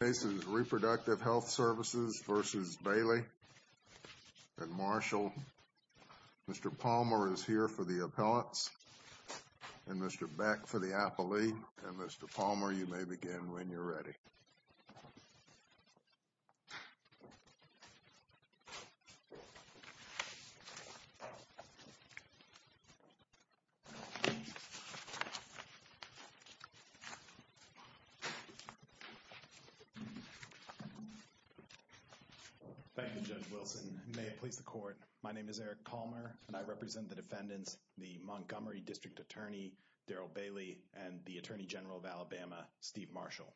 This case is Reproductive Health Services v. Bailey and Marshall. Mr. Palmer is here for the appellants, and Mr. Beck for the affilee, and Mr. Palmer, you may begin when you're ready. Thank you, Judge Wilson. May it please the Court, my name is Eric Palmer, and I represent the defendants, the Montgomery District Attorney, Daryl Bailey, and the Attorney General of Alabama, Steve Marshall.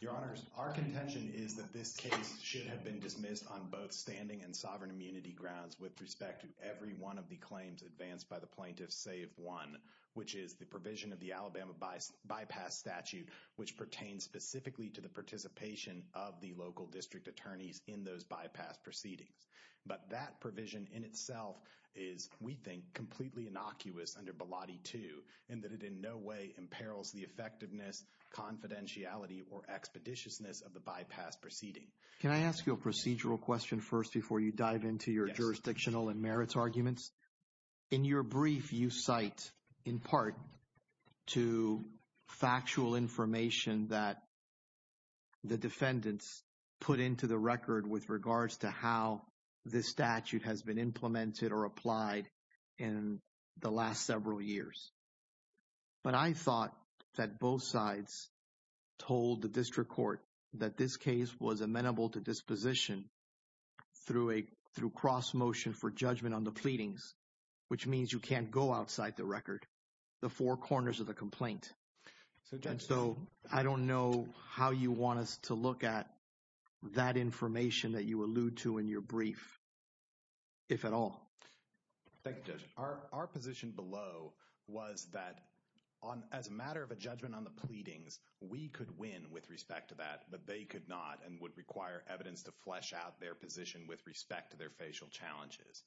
Your Honors, our contention is that this case should have been dismissed on both standing and sovereign immunity grounds with respect to every one of the claims advanced by the plaintiffs, save one, which is the provision of the Alabama Bypass Statute, which pertains specifically to the participation of the local district attorneys in those bypass proceedings. But that provision in itself is, we think, completely innocuous under Bilotti 2, in that it in no way imperils the effectiveness, confidentiality, or expeditiousness of the bypass proceedings. Can I ask you a procedural question first before you dive into your jurisdictional and merits arguments? In your brief, you cite in part to factual information that the defendants put into the record with regards to how this statute has been implemented or applied in the last several years. But I thought that both sides told the district court that this case was amenable to disposition through cross-motion for judgment on the pleadings, which means you can't go outside the record, the four corners of the complaint. So, Judge, I don't know how you want us to look at that information that you allude to in your brief, if at all. Our position below was that as a matter of a judgment on the pleadings, we could win with respect to that, but they could not and would require evidence to flesh out their position with respect to their facial challenges.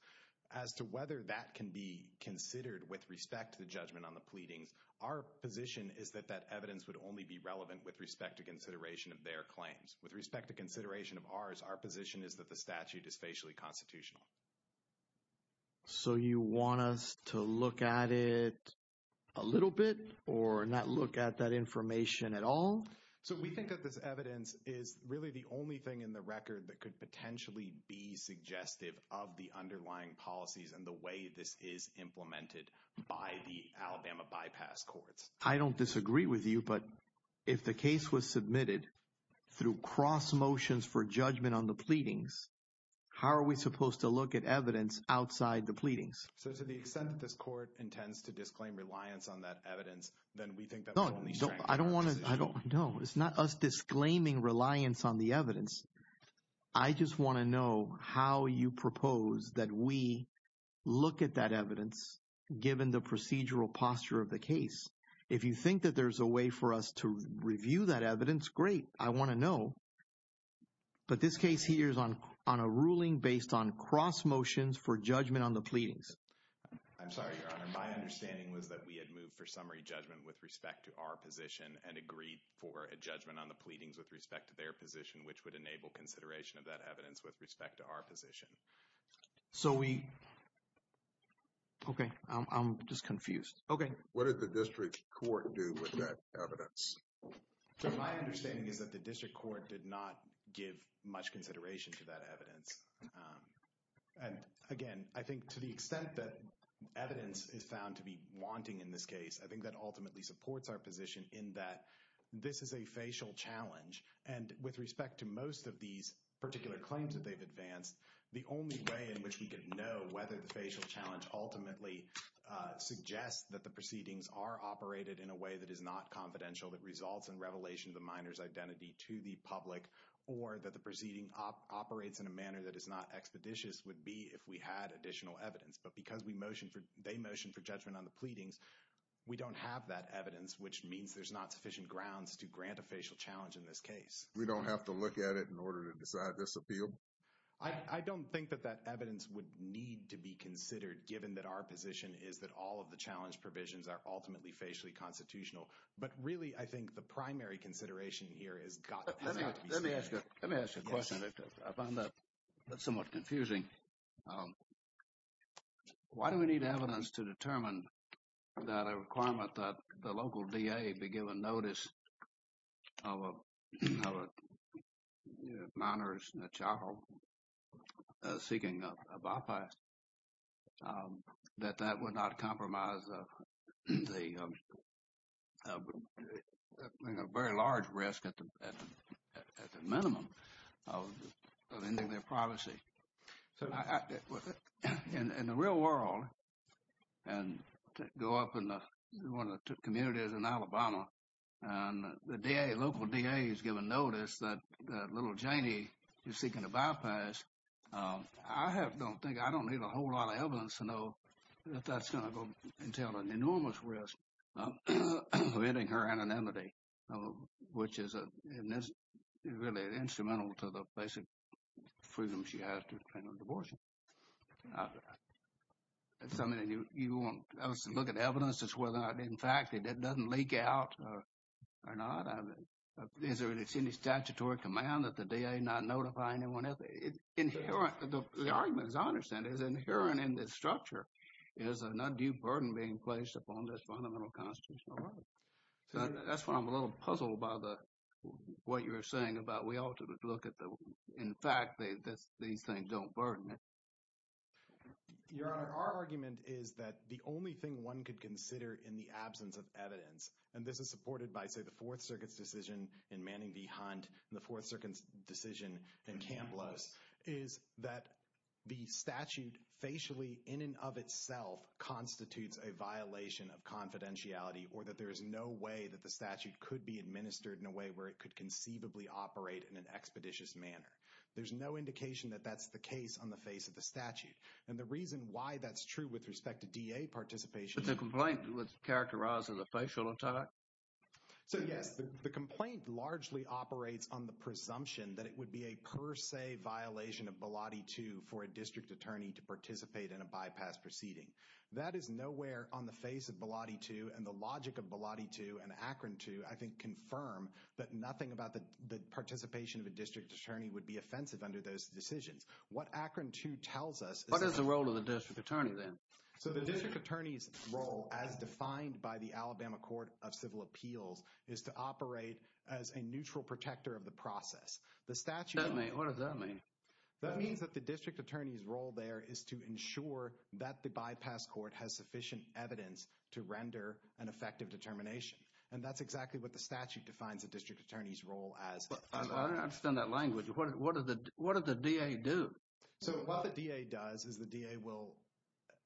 As to whether that can be considered with respect to the judgment on the pleadings, our position is that that evidence would only be relevant with respect to consideration of their claims. With respect to consideration of ours, our position is that the statute is facially constitutional. So you want us to look at it a little bit or not look at that information at all? So we think that this evidence is really the only thing in the record that could potentially be suggestive of the underlying policies and the way this is implemented by the Alabama Bypass Courts. I don't disagree with you, but if the case was submitted through cross motions for judgment on the pleadings, how are we supposed to look at evidence outside the pleadings? So to the extent that this court intends to disclaim reliance on that evidence, then we think that's only fair. No, it's not us disclaiming reliance on the evidence. I just want to know how you propose that we look at that evidence given the procedural posture of the case. If you think that there's a way for us to review that evidence, great. I want to know. But this case here is on a ruling based on cross motions for judgment on the pleadings. I'm sorry, Your Honor. My understanding was that we had moved for summary judgment with respect to our position and agreed for a judgment on the pleadings with respect to their position, which would enable consideration of that evidence with respect to our position. Okay. I'm just confused. Okay. What did the district court do with that evidence? My understanding is that the district court did not give much consideration to that evidence. Again, I think to the extent that evidence is found to be wanting in this case, I think that ultimately supports our position in that this is a facial challenge. And with respect to most of these particular claims that they've advanced, the only way in which we can know whether the facial challenge ultimately suggests that the proceedings are operated in a way that is not confidential, that results in revelation of the minor's identity to the public, or that the proceeding operates in a manner that is not expeditious would be if we had additional evidence. But because they motioned for judgment on the pleadings, we don't have that evidence, which means there's not sufficient grounds to grant a facial challenge in this case. We don't have to look at it in order to decide this appeal? I don't think that that evidence would need to be considered, given that our position is that all of the challenge provisions are ultimately facially constitutional. But really, I think the primary consideration here is – Let me ask you a question that I found somewhat confusing. Why do we need evidence to determine that a requirement that the local DA be given notice of a minor's child seeking a bypass, that that would not compromise the – a very large risk at the minimum of ending their privacy? In the real world, and go up in one of the communities in Alabama, and the local DA is given notice that little Janie is seeking a bypass, I don't think I don't need a whole lot of evidence to know that that's going to go into an enormous risk of ending her anonymity, which is really instrumental to the basic freedom she has to end her divorce. So you won't look at evidence as whether or not, in fact, it doesn't leak out or not? Is there any statutory command that the DA not notify anyone else? Inherent – the argument, as I understand it, is inherent in the structure, is an undue burden being placed upon this fundamental constitutional order. So that's why I'm a little puzzled by the – what you were saying about we ought to look at the – in fact, that these things don't burden it. Your Honor, our argument is that the only thing one could consider in the absence of evidence, and this is supported by the Fourth Circuit's decision in Manning v. Hunt and the Fourth Circuit's decision in Kamplos, is that the statute facially in and of itself constitutes a violation of confidentiality or that there is no way that the statute could be administered in a way where it could conceivably operate in an expeditious manner. There's no indication that that's the case on the face of the statute. And the reason why that's true with respect to DA participation – But the complaint was characterized as a facial attack? So, yes, the complaint largely operates on the presumption that it would be a per se violation of Bilotti 2 for a district attorney to participate in a bypass proceeding. That is nowhere on the face of Bilotti 2, and the logic of Bilotti 2 and Akron 2, I think, would confirm that nothing about the participation of a district attorney would be offensive under those decisions. What Akron 2 tells us – What is the role of the district attorney then? So the district attorney's role, as defined by the Alabama Court of Civil Appeals, is to operate as a neutral protector of the process. The statute – What does that mean? That means that the district attorney's role there is to ensure that the bypass court has sufficient evidence to render an effective determination. And that's exactly what the statute defines a district attorney's role as. I don't understand that language. What does the DA do? So what the DA does is the DA will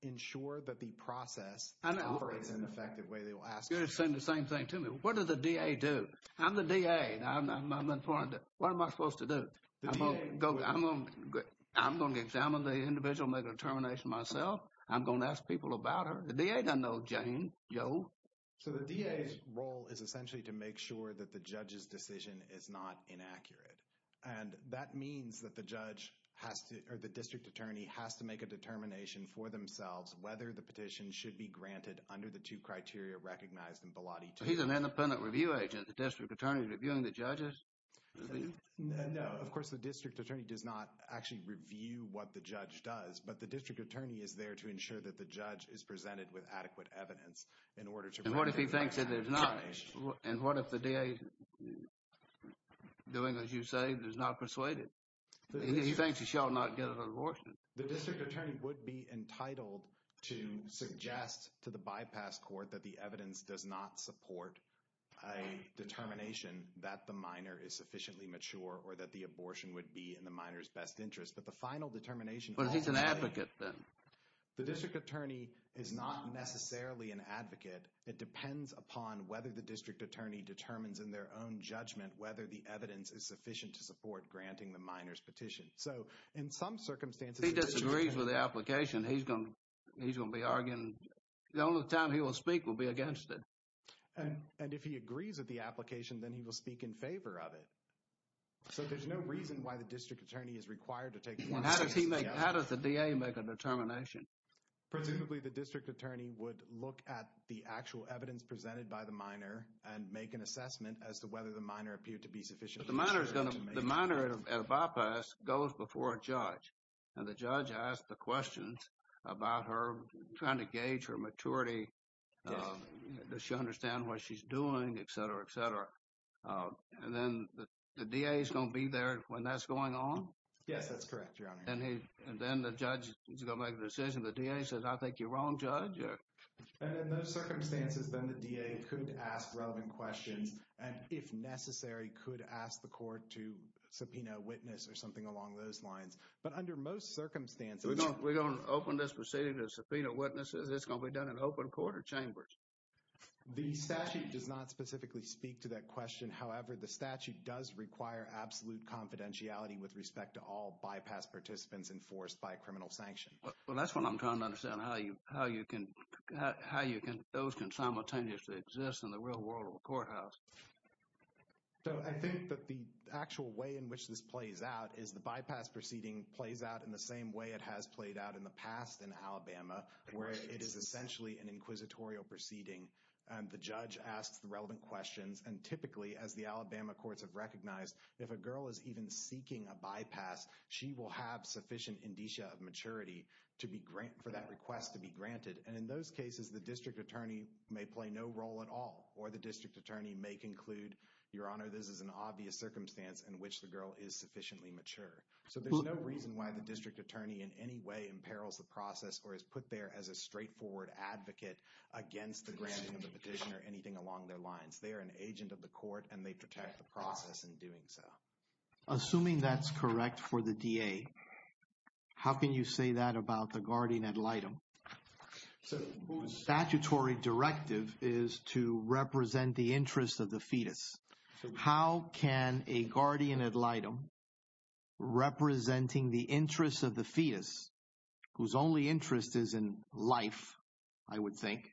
ensure that the process operates in an effective way. You're saying the same thing to me. What does the DA do? I'm the DA. What am I supposed to do? I'm going to examine the individual and make a determination myself. I'm going to ask people about her. The DA doesn't know, James. No. So the DA's role is essentially to make sure that the judge's decision is not inaccurate. And that means that the judge or the district attorney has to make a determination for themselves whether the petition should be granted under the two criteria recognized in Blot E2. He's an independent review agent. The district attorney is reviewing the judges? No, of course the district attorney does not actually review what the judge does, but the district attorney is there to ensure that the judge is presented with adequate evidence. And what if the DA, doing as you say, is not persuaded? He thinks he shall not get an abortion. The district attorney would be entitled to suggest to the bypass court that the evidence does not support a determination that the minor is sufficiently mature or that the abortion would be in the minor's best interest. But he's an advocate then. The district attorney is not necessarily an advocate. It depends upon whether the district attorney determines in their own judgment whether the evidence is sufficient to support granting the minor's petition. So in some circumstances he disagrees with the application. He's going to be arguing. The only time he will speak will be against it. And if he agrees with the application, then he will speak in favor of it. So there's no reason why the district attorney is required to take a determination? How does the DA make a determination? Typically the district attorney would look at the actual evidence presented by the minor and make an assessment as to whether the minor appeared to be sufficiently mature. The minor at bypass goes before a judge, and the judge asks the questions about her, trying to gauge her maturity, that she understands what she's doing, et cetera, et cetera. And then the DA is going to be there when that's going on? Yes, that's correct, Your Honor. And then the judge is going to make a decision. The DA says, I think you're wrong, Judge. And in those circumstances, then the DA could ask relevant questions and if necessary could ask the court to subpoena a witness or something along those lines. But under most circumstances… We don't open this proceeding to subpoena witnesses. It's going to be done in open court or chambers. The statute does not specifically speak to that question. However, the statute does require absolute confidentiality with respect to all bypass participants enforced by a criminal sanction. Well, that's what I'm trying to understand, how you can open simultaneous to exist in the real world of a courthouse. So I think that the actual way in which this plays out is the bypass proceeding plays out where it is essentially an inquisitorial proceeding. The judge asks relevant questions. And typically, as the Alabama courts have recognized, if a girl is even seeking a bypass, she will have sufficient indicia of maturity for that request to be granted. And in those cases, the district attorney may play no role at all or the district attorney may conclude, Your Honor, this is an obvious circumstance in which the girl is sufficiently mature. So there's no reason why the district attorney in any way imperils the process or is put there as a straightforward advocate against the granting of the petition or anything along their lines. They are an agent of the court, and they protect the process in doing so. Assuming that's correct for the DA, how can you say that about the guardian ad litem, whose statutory directive is to represent the interests of the fetus? How can a guardian ad litem representing the interests of the fetus, whose only interest is in life, I would think,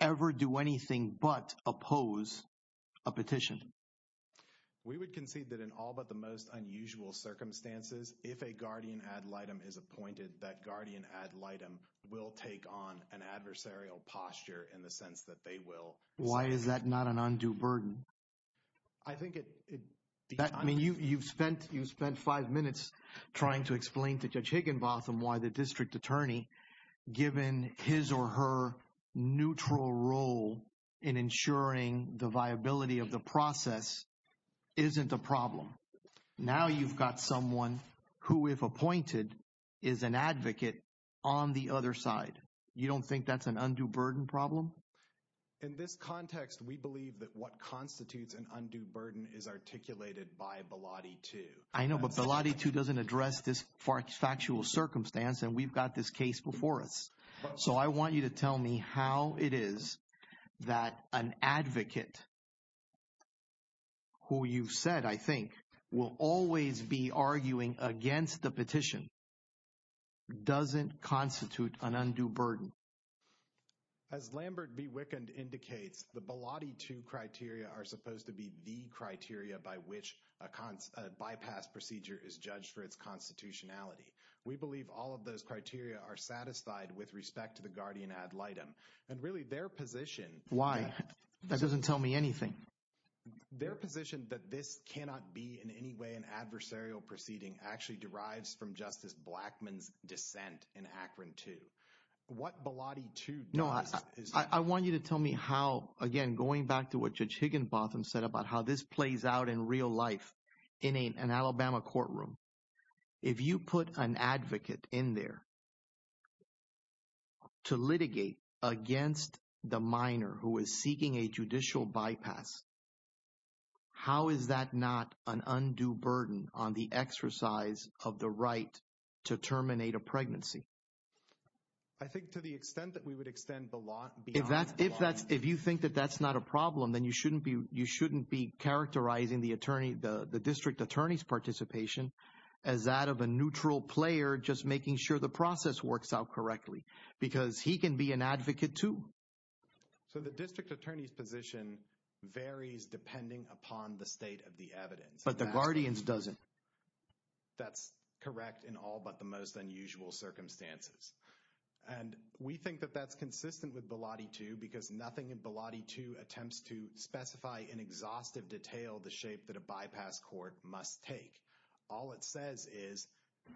ever do anything but oppose a petition? We would concede that in all but the most unusual circumstances, if a guardian ad litem is appointed, that guardian ad litem will take on an adversarial posture in the sense that they will. Why is that not an undue burden? You've spent five minutes trying to explain to Judge Higginbotham why the district attorney, given his or her neutral role in ensuring the viability of the process, isn't a problem. Now you've got someone who, if appointed, is an advocate on the other side. You don't think that's an undue burden problem? In this context, we believe that what constitutes an undue burden is articulated by Biladi 2. I know, but Biladi 2 doesn't address this factual circumstance, and we've got this case before us. So I want you to tell me how it is that an advocate, who you've said, I think, will always be arguing against a petition, doesn't constitute an undue burden. As Lambert B. Wickand indicates, the Biladi 2 criteria are supposed to be the criteria by which a bypass procedure is judged for its constitutionality. We believe all of those criteria are satisfied with respect to the guardian ad litem. And really, their position— Why? That doesn't tell me anything. Their position that this cannot be in any way an adversarial proceeding actually derives from Justice Blackmun's dissent in ACRIN 2. What Biladi 2 does is— No, I want you to tell me how, again, going back to what Judge Higginbotham said about how this plays out in real life in an Alabama courtroom. If you put an advocate in there to litigate against the minor who is seeking a judicial bypass, how is that not an undue burden on the exercise of the right to terminate a pregnancy? I think to the extent that we would extend the law beyond— If you think that that's not a problem, then you shouldn't be characterizing the district attorney's participation as that of a neutral player just making sure the process works out correctly because he can be an advocate too. So the district attorney's position varies depending upon the state of the evidence. But the guardian's doesn't. That's correct in all but the most unusual circumstances. And we think that that's consistent with Biladi 2 because nothing in Biladi 2 attempts to specify in exhaustive detail the shape that a bypass court must take. All it says is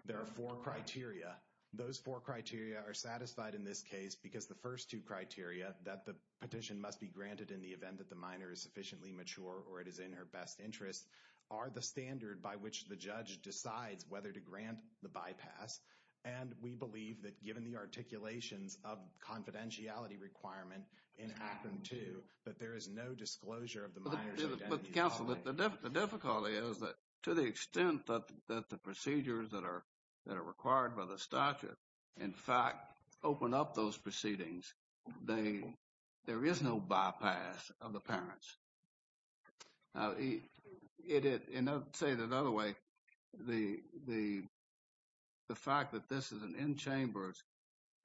there are four criteria. Those four criteria are satisfied in this case because the first two criteria that the petition must be granted in the event that the minor is sufficiently mature or it is in her best interest are the standard by which the judge decides whether to grant the bypass. And we believe that given the articulations of confidentiality requirement in Act 2 that there is no disclosure of the minor's identity. But, counsel, the difficulty is that to the extent that the procedures that are required by the statute, in fact, open up those proceedings, there is no bypass of the parents. And I'll say it another way. The fact that this is an in-chambers,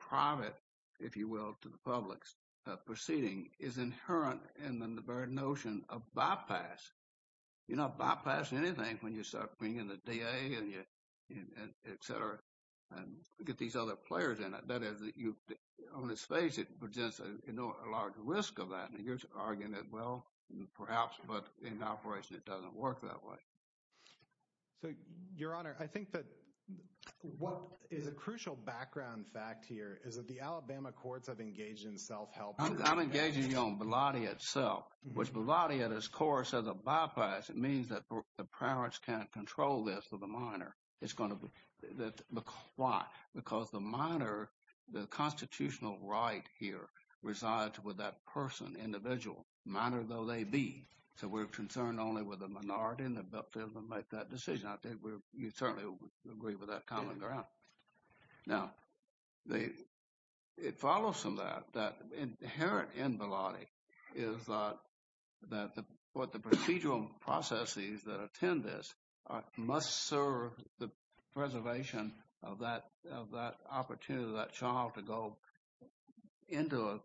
private, if you will, to the public's proceeding is inherent in the very notion of bypass. You're not bypassing anything when you start bringing in the DA, et cetera, and get these other players in it. That is, on its face, it presents a large risk of that. And here's an argument, well, perhaps, but in operation it doesn't work that way. Your Honor, I think that what is a crucial background fact here is that the Alabama courts have engaged in self-help. I'm engaging you on Biladi itself. With Biladi and his courts as a bypass, it means that the parents can't control this for the minor. Why? Because the minor, the constitutional right here, resides with that person, individual, minor though they be. So we're concerned only with the minority, and that doesn't make that decision. I think you'd certainly agree with that common ground. Now, it follows from that that inherent in Biladi is that the procedural processes that attend this must serve the preservation of that opportunity, for that child to go into a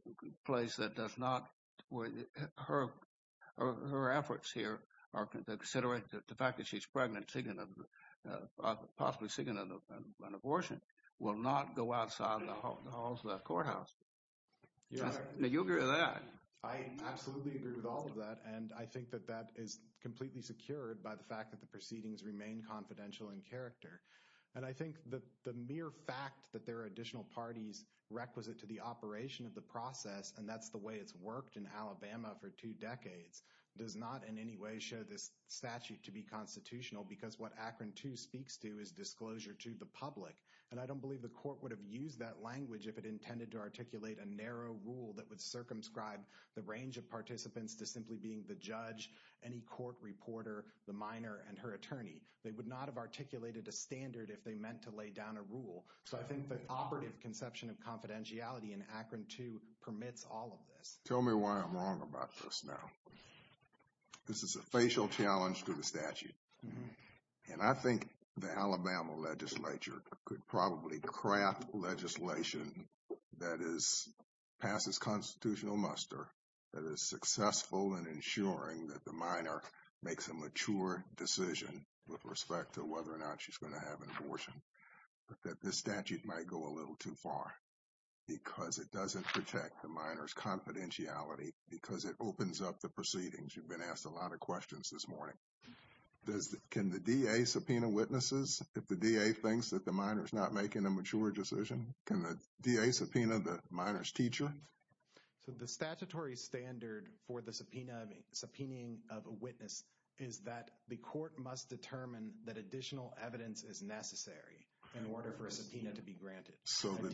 place that does not, her efforts here are to consider the fact that she's pregnant, possibly signing an abortion, will not go outside the halls of the courthouse. Do you agree with that? I absolutely agree with all of that, and I think that that is completely secured by the fact that the proceedings remain confidential in character. I think the mere fact that there are additional parties requisite to the operation of the process, and that's the way it's worked in Alabama for two decades, does not in any way show this statute to be constitutional, because what Akron 2 speaks to is disclosure to the public. I don't believe the court would have used that language if it intended to articulate a narrow rule that would circumscribe the range of participants to simply being the judge, any court reporter, the minor, and her attorney. They would not have articulated a standard if they meant to lay down a rule. So I think the operative conception of confidentiality in Akron 2 permits all of this. Tell me why I'm wrong about this now. This is a facial challenge to the statute, and I think the Alabama legislature could probably craft legislation that passes constitutional muster that is successful in ensuring that the minor makes a mature decision with respect to whether or not she's going to have an abortion, but that this statute might go a little too far, because it doesn't protect the minor's confidentiality, because it opens up the proceedings. You've been asked a lot of questions this morning. Can the DA subpoena witnesses? If the DA thinks that the minor's not making a mature decision, can the DA subpoena the minor's teacher? The statutory standard for the subpoena, subpoenaing of a witness, is that the court must determine that additional evidence is necessary in order for a subpoena to be granted. So the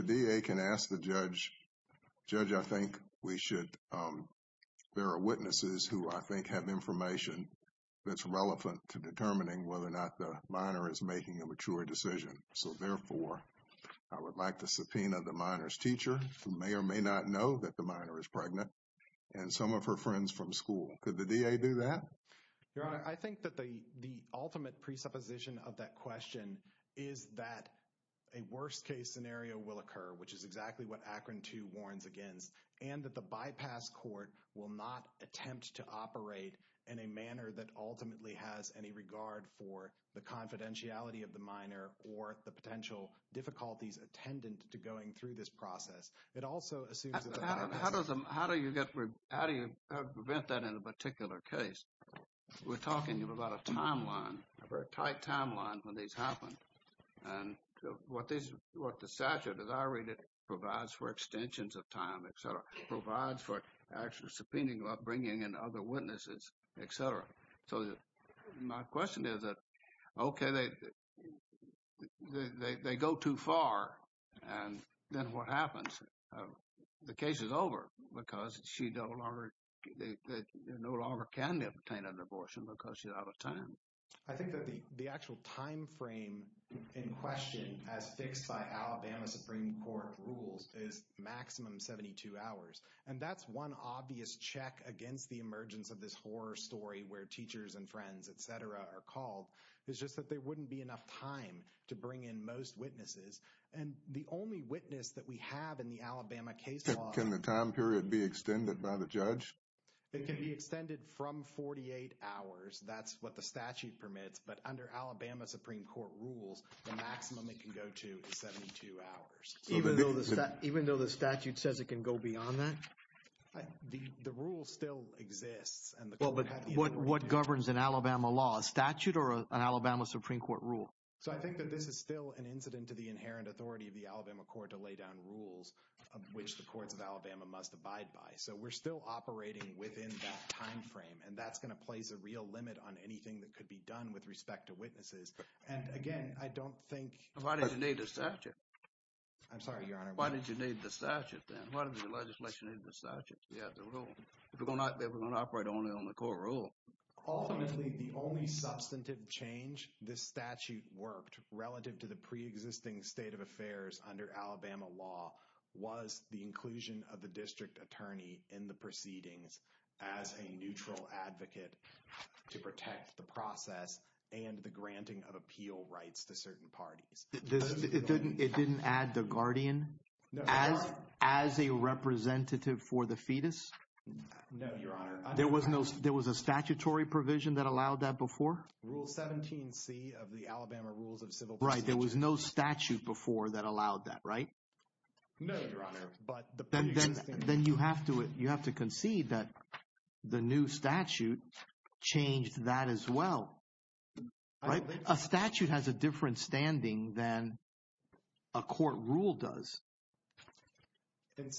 DA can ask the judge, Judge, I think there are witnesses who I think have information that's relevant to determining whether or not the minor is making a mature decision. So, therefore, I would like to subpoena the minor's teacher, who may or may not know that the minor is pregnant, and some of her friends from school. Could the DA do that? Your Honor, I think that the ultimate presupposition of that question is that a worst-case scenario will occur, which is exactly what Akron 2 warns against, and that the bypass court will not attempt to operate in a manner that ultimately has any regard for the confidentiality of the minor or the potential difficulties attendant to going through this process. How do you prevent that in a particular case? We're talking about a timeline, a very tight timeline when these happen. What the statute, as I read it, provides for extensions of time, et cetera, what it provides for actually subpoenaing the upbringing and other witnesses, et cetera. So my question is that, okay, they go too far, and then what happens? The case is over because she no longer can obtain a divorce because she's out of time. I think that the actual timeframe in question, as fixed by Alabama Supreme Court rules, is maximum 72 hours. And that's one obvious check against the emergence of this horror story where teachers and friends, et cetera, are called. It's just that there wouldn't be enough time to bring in most witnesses. And the only witness that we have in the Alabama case law – Can the time period be extended by the judge? It can be extended from 48 hours. That's what the statute permits. But under Alabama Supreme Court rules, the maximum it can go to is 72 hours. Even though the statute says it can go beyond that? The rule still exists. What governs an Alabama law, a statute or an Alabama Supreme Court rule? I think that this is still an incident to the inherent authority of the Alabama court to lay down rules, which the courts of Alabama must abide by. So we're still operating within that timeframe, and that's going to place a real limit on anything that could be done with respect to witnesses. Again, I don't think – Why did you need the statute? I'm sorry, Your Honor. Why did you need the statute then? Why did the legislation need the statute? They were going to operate only on the court rule. Obviously, the only substantive change this statute worked, relative to the preexisting state of affairs under Alabama law, was the inclusion of the district attorney in the proceedings as a neutral advocate to protect the process and the granting of appeal rights to certain parties. It didn't add the guardian as a representative for the fetus? No, Your Honor. There was a statutory provision that allowed that before? Rule 17C of the Alabama Rules of Civil Procedure. Right. There was no statute before that allowed that, right? No, Your Honor. Then you have to concede that the new statute changed that as well. A statute has a different standing than a court rule does,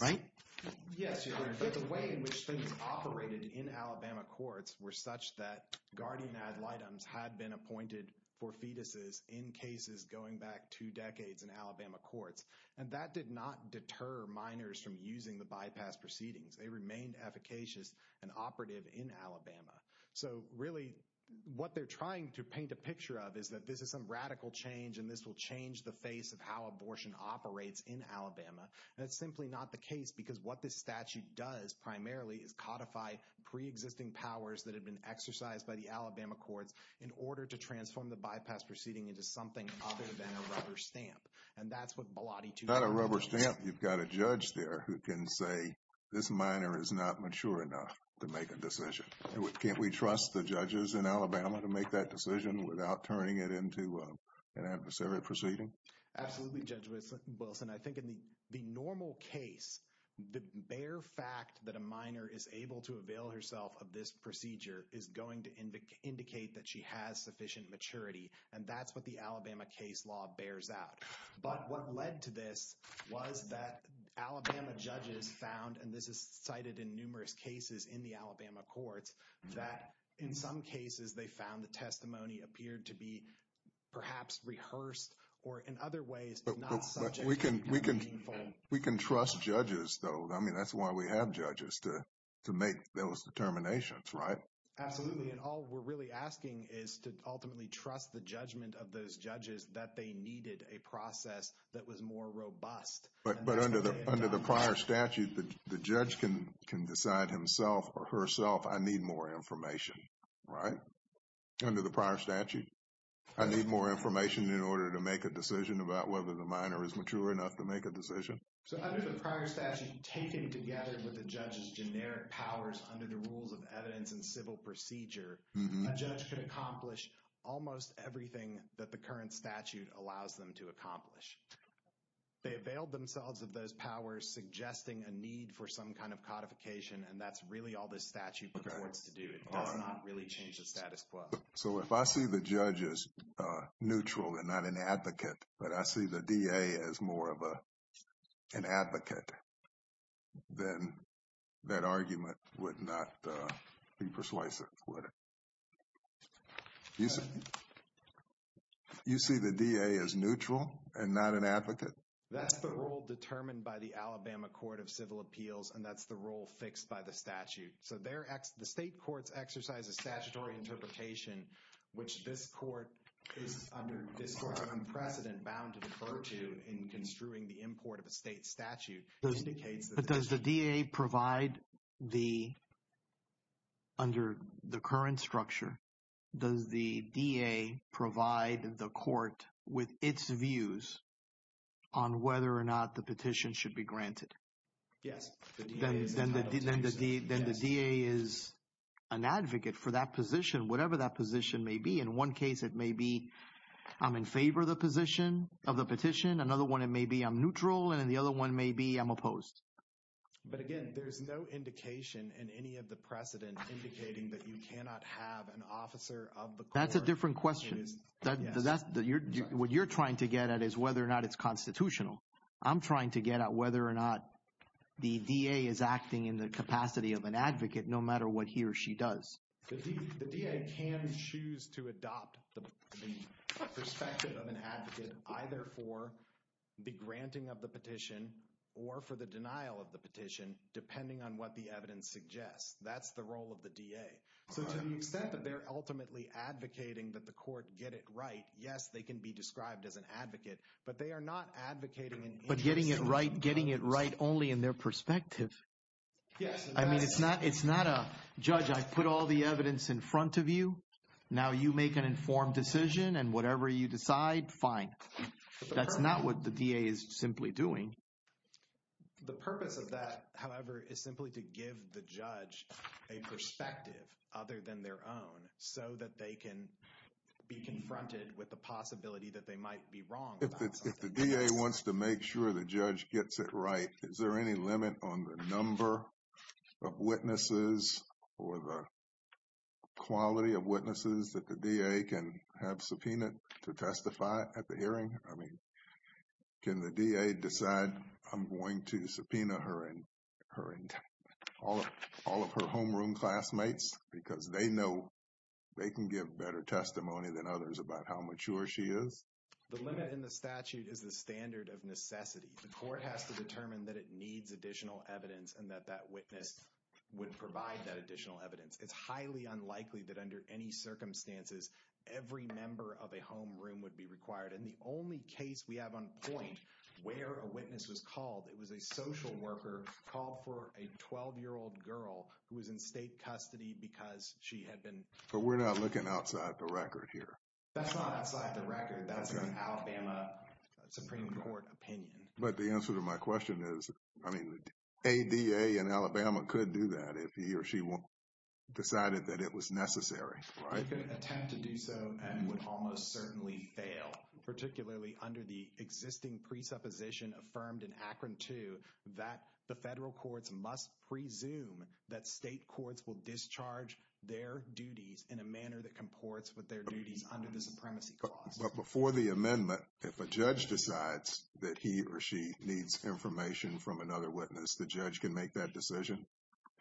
right? Yes, Your Honor. But the way in which things operated in Alabama courts were such that guardian ad litems had been appointed for fetuses in cases going back two decades in Alabama courts. And that did not deter minors from using the bypass proceedings. They remained efficacious and operative in Alabama. So really what they're trying to paint a picture of is that this is some radical change and this will change the face of how abortion operates in Alabama. That's simply not the case because what this statute does primarily is it allows the minors to use pre-existing powers that have been exercised by the Alabama court in order to transform the bypass proceeding into something other than a rubber stamp. And that's what Blatty 2 does. Not a rubber stamp. You've got a judge there who can say, this minor is not mature enough to make a decision. Can't we trust the judges in Alabama to make that decision without turning it into an adversarial proceeding? Absolutely, Judge Wilson. I think in the normal case, the bare fact that a minor is able to avail herself of this procedure is going to indicate that she has sufficient maturity. And that's what the Alabama case law bears out. But what led to this was that Alabama judges found, and this is cited in numerous cases in the Alabama courts, that in some cases they found the testimony appeared to be perhaps rehearsed or in other ways, but we can trust judges though. I mean, that's why we have judges to make those determinations, right? Absolutely. And all we're really asking is to ultimately trust the judgment of those judges that they needed a process that was more robust. But under the prior statute, the judge can decide himself or herself, I need more information, right? Under the prior statute, I need more information in order to make a decision about whether the minor is mature enough to make a decision. So under the prior statute, taken together with the judge's generic powers under the rules of evidence and civil procedure, a judge can accomplish almost everything that the current statute allows them to accomplish. They availed themselves of those powers, suggesting a need for some kind of codification, and that's really all this statute requires to do. It does not really change the status quo. So if I see the judge as neutral and not an advocate, but I see the DA as more of an advocate, then that argument would not be persuasive, would it? You see the DA as neutral and not an advocate? That's the rule determined by the Alabama Court of Civil Appeals, and that's the rule fixed by the statute. The state courts exercise a statutory interpretation, which this court is, under this court, an unprecedented bound to refer to in construing the import of a state statute. But does the DA provide the, under the current structure, does the DA provide the court with its views on whether or not the petition should be granted? Yes. Then the DA is an advocate for that position, whatever that position may be. In one case, it may be I'm in favor of the position, of the petition. Another one, it may be I'm neutral. And then the other one may be I'm opposed. But again, there's no indication in any of the precedents indicating that you cannot have an officer of the court. That's a different question. What you're trying to get at is whether or not it's constitutional. I'm trying to get at whether or not the DA is acting in the capacity of an advocate, no matter what he or she does. The DA can choose to adopt the perspective of an advocate, either for the granting of the petition or for the denial of the petition, depending on what the evidence suggests. That's the role of the DA. So to the extent that they're ultimately advocating that the court get it right, yes, they can be described as an advocate, but they are not advocating an individual. But getting it right only in their perspective. Yes. I mean, it's not a judge, I put all the evidence in front of you. Now you make an informed decision and whatever you decide, fine. That's not what the DA is simply doing. The purpose of that, however, is simply to give the judge a perspective other than their own so that they can be confronted with the possibility that they might be wrong. If the DA wants to make sure the judge gets it right, is there any limit on the number of witnesses or the quality of witnesses that the DA can have subpoenaed to testify at the hearing? I mean, can the DA decide, I'm going to subpoena all of her homeroom classmates because they know they can give better testimony than others about how mature she is? The limit in the statute is the standard of necessity. The court has to determine that it needs additional evidence and that that witness would provide that additional evidence. It's highly unlikely that under any circumstances, every member of a homeroom would be required. And the only case we have on point where a witness was called, it was a social worker called for a 12-year-old girl who was in state custody because she had been. But we're not looking outside the record here. That's not outside the record. That's an Alabama Supreme Court opinion. But the answer to my question is, I mean, the ADA in Alabama could do that if he or she decided that it was necessary. They could attempt to do so and would almost certainly fail, particularly under the existing presupposition affirmed in Akron 2, that the federal courts must presume that state courts will discharge their But before the amendment, if a judge decides that he or she needs information from another witness, the judge can make that decision?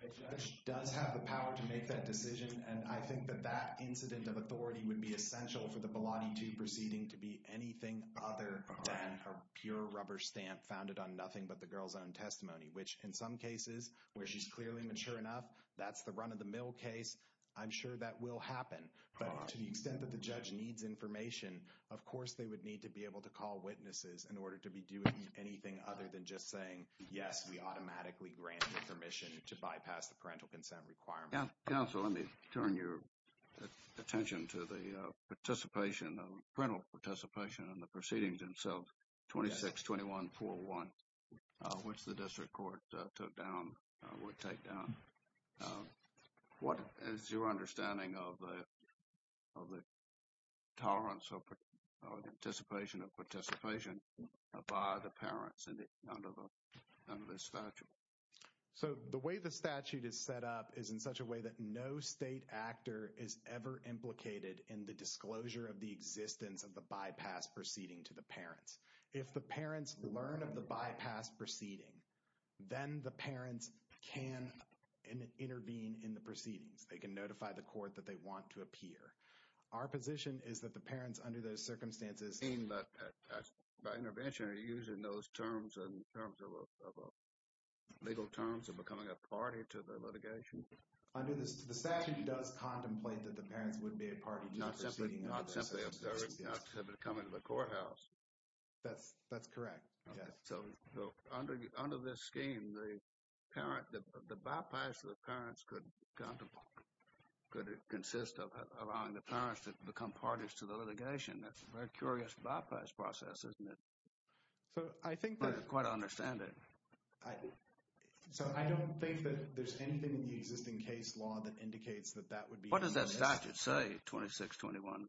A judge does have the power to make that decision. And I think that that incident of authority would be essential for the Bilotti T proceeding to be anything other than a pure rubber stamp founded on nothing but the girl's own testimony, which in some cases, where she's clearly mature enough, that's the run-of-the-mill case. I'm sure that will happen. But to the extent that the judge needs information, of course they would need to be able to call witnesses in order to be doing anything other than just saying, yes, we automatically grant permission to bypass the parental consent requirement. Yeah. So let me turn your attention to the participation, the parental participation in the proceedings themselves, 26-21-4-1, which the district court took down, would take down. What is your understanding of the tolerance or the anticipation of participation by the parents under this statute? So the way the statute is set up is in such a way that no state actor is ever implicated in the disclosure of the existence of the bypass proceeding to the parents. If the parents learn of the bypass proceeding, then the parents can intervene in the proceedings. They can notify the court that they want to appear. Our position is that the parents, under those circumstances… By intervention, are you using those terms in terms of legal terms of becoming a party to the litigation? Under the statute, it does contemplate that the parents would be a party to the proceeding. Not simply observing, not simply coming to the courthouse. That's correct. So under this scheme, the bypass for the parents could consist of allowing the parents to become parties to the litigation. That's a very curious bypass process, isn't it? I think that's quite understandable. So I don't think that there's anything in the existing case law that indicates that that would be… What does that statute say, 26-21-4-1?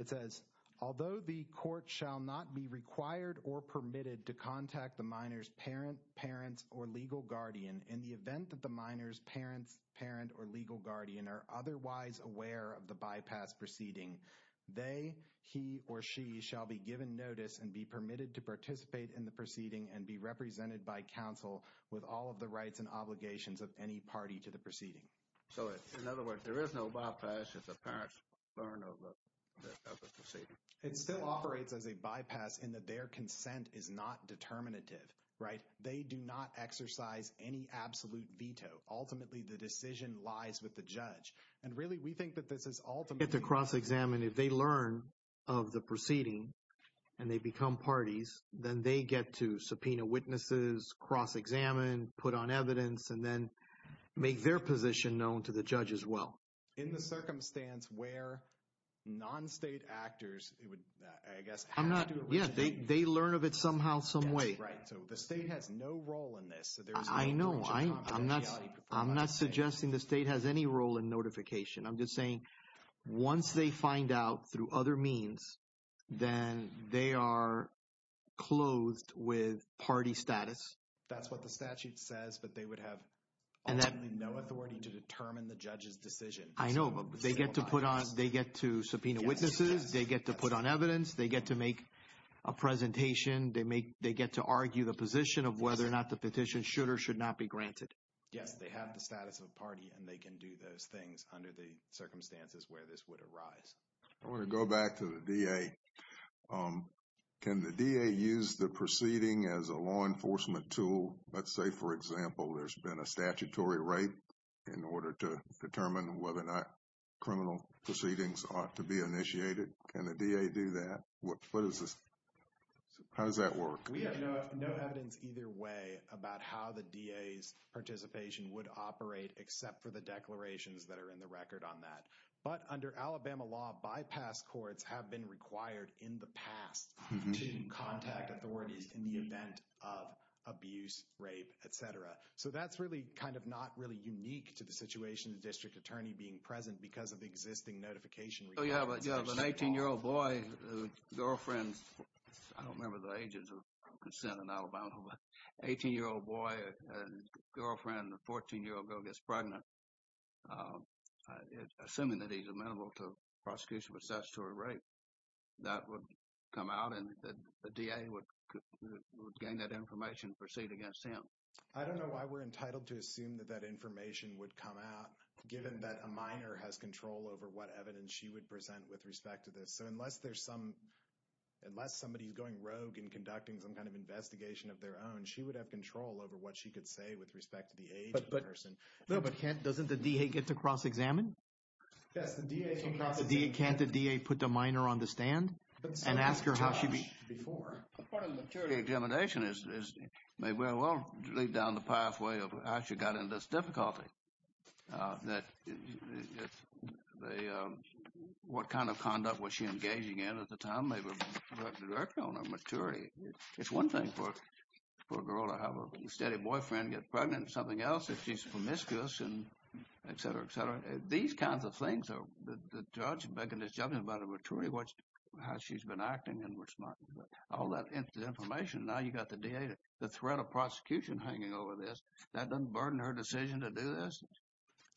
It says, although the court shall not be required or permitted to contact the minor's parent, parent, or legal guardian in the event that the minor's parent, parent, or legal guardian are otherwise aware of the bypass proceeding, they, he, or she, shall be given notice and be permitted to participate in the proceeding and be represented by counsel with all of the rights and obligations of any party to the proceeding. So in other words, there is no bypass. It's a parent's parent or legal guardian. It still operates as a bypass in that their consent is not determinative. They do not exercise any absolute veto. Ultimately, the decision lies with the judge. And really, we think that this is ultimately… Get to cross-examine. If they learn of the proceeding and they become parties, then they get to subpoena witnesses, cross-examine, put on evidence, and then make their position known to the judge as well. In the circumstance where non-state actors, I guess… Yeah, they learn of it somehow, some way. Right, so the state has no role in this. I know. I'm not suggesting the state has any role in notification. I'm just saying once they find out through other means, then they are closed with party status. That's what the statute says, but they would have ultimately no authority to determine the judge's decision. I know. They get to subpoena witnesses. They get to put on evidence. They get to make a presentation. They get to argue the position of whether or not the petition should or should not be granted. Yeah, they have the status of party, and they can do those things under the circumstances where this would arise. I want to go back to the DA. Can the DA use the proceeding as a law enforcement tool? Let's say, for example, there's been a statutory rape in order to determine whether or not criminal proceedings ought to be initiated. Can the DA do that? How does that work? We have no evidence either way about how the DA's participation would operate except for the declarations that are in the record on that. But under Alabama law, bypass courts have been required in the past to contact authorities in the event of abuse, rape, et cetera. So that's really kind of not really unique to the situation, the district attorney being present because of existing notification. So you have an 18-year-old boy, girlfriend, I don't remember the ages of consent in Alabama, but an 18-year-old boy, girlfriend, and a 14-year-old girl gets pregnant. Assuming that he's amenable to prosecution for statutory rape, that would come out, and the DA would gain that information and proceed against him. I don't know why we're entitled to assume that that information would come out given that a minor has control over what evidence she would present with respect to this. So unless there's some, unless somebody's going rogue and conducting some kind of investigation of their own, she would have control over what she could say with respect to the age of the person. But Kent, doesn't the DA get to cross-examine? Yes, the DA can cross-examine. Can't the DA put the minor on the stand and ask her how she be? Part of the jury examination is maybe we're well down the pathway of how she got into this difficulty. What kind of conduct was she engaging in at the time? They were directly on her maturity. It's one thing for a girl to have a steady boyfriend, get pregnant with something else if she's promiscuous, et cetera, et cetera. These kinds of things, the judge is making a judgment about her maturity, how she's been acting and all that information. Now you've got the DA, the threat of prosecution hanging over this. That doesn't burden her decision to do this.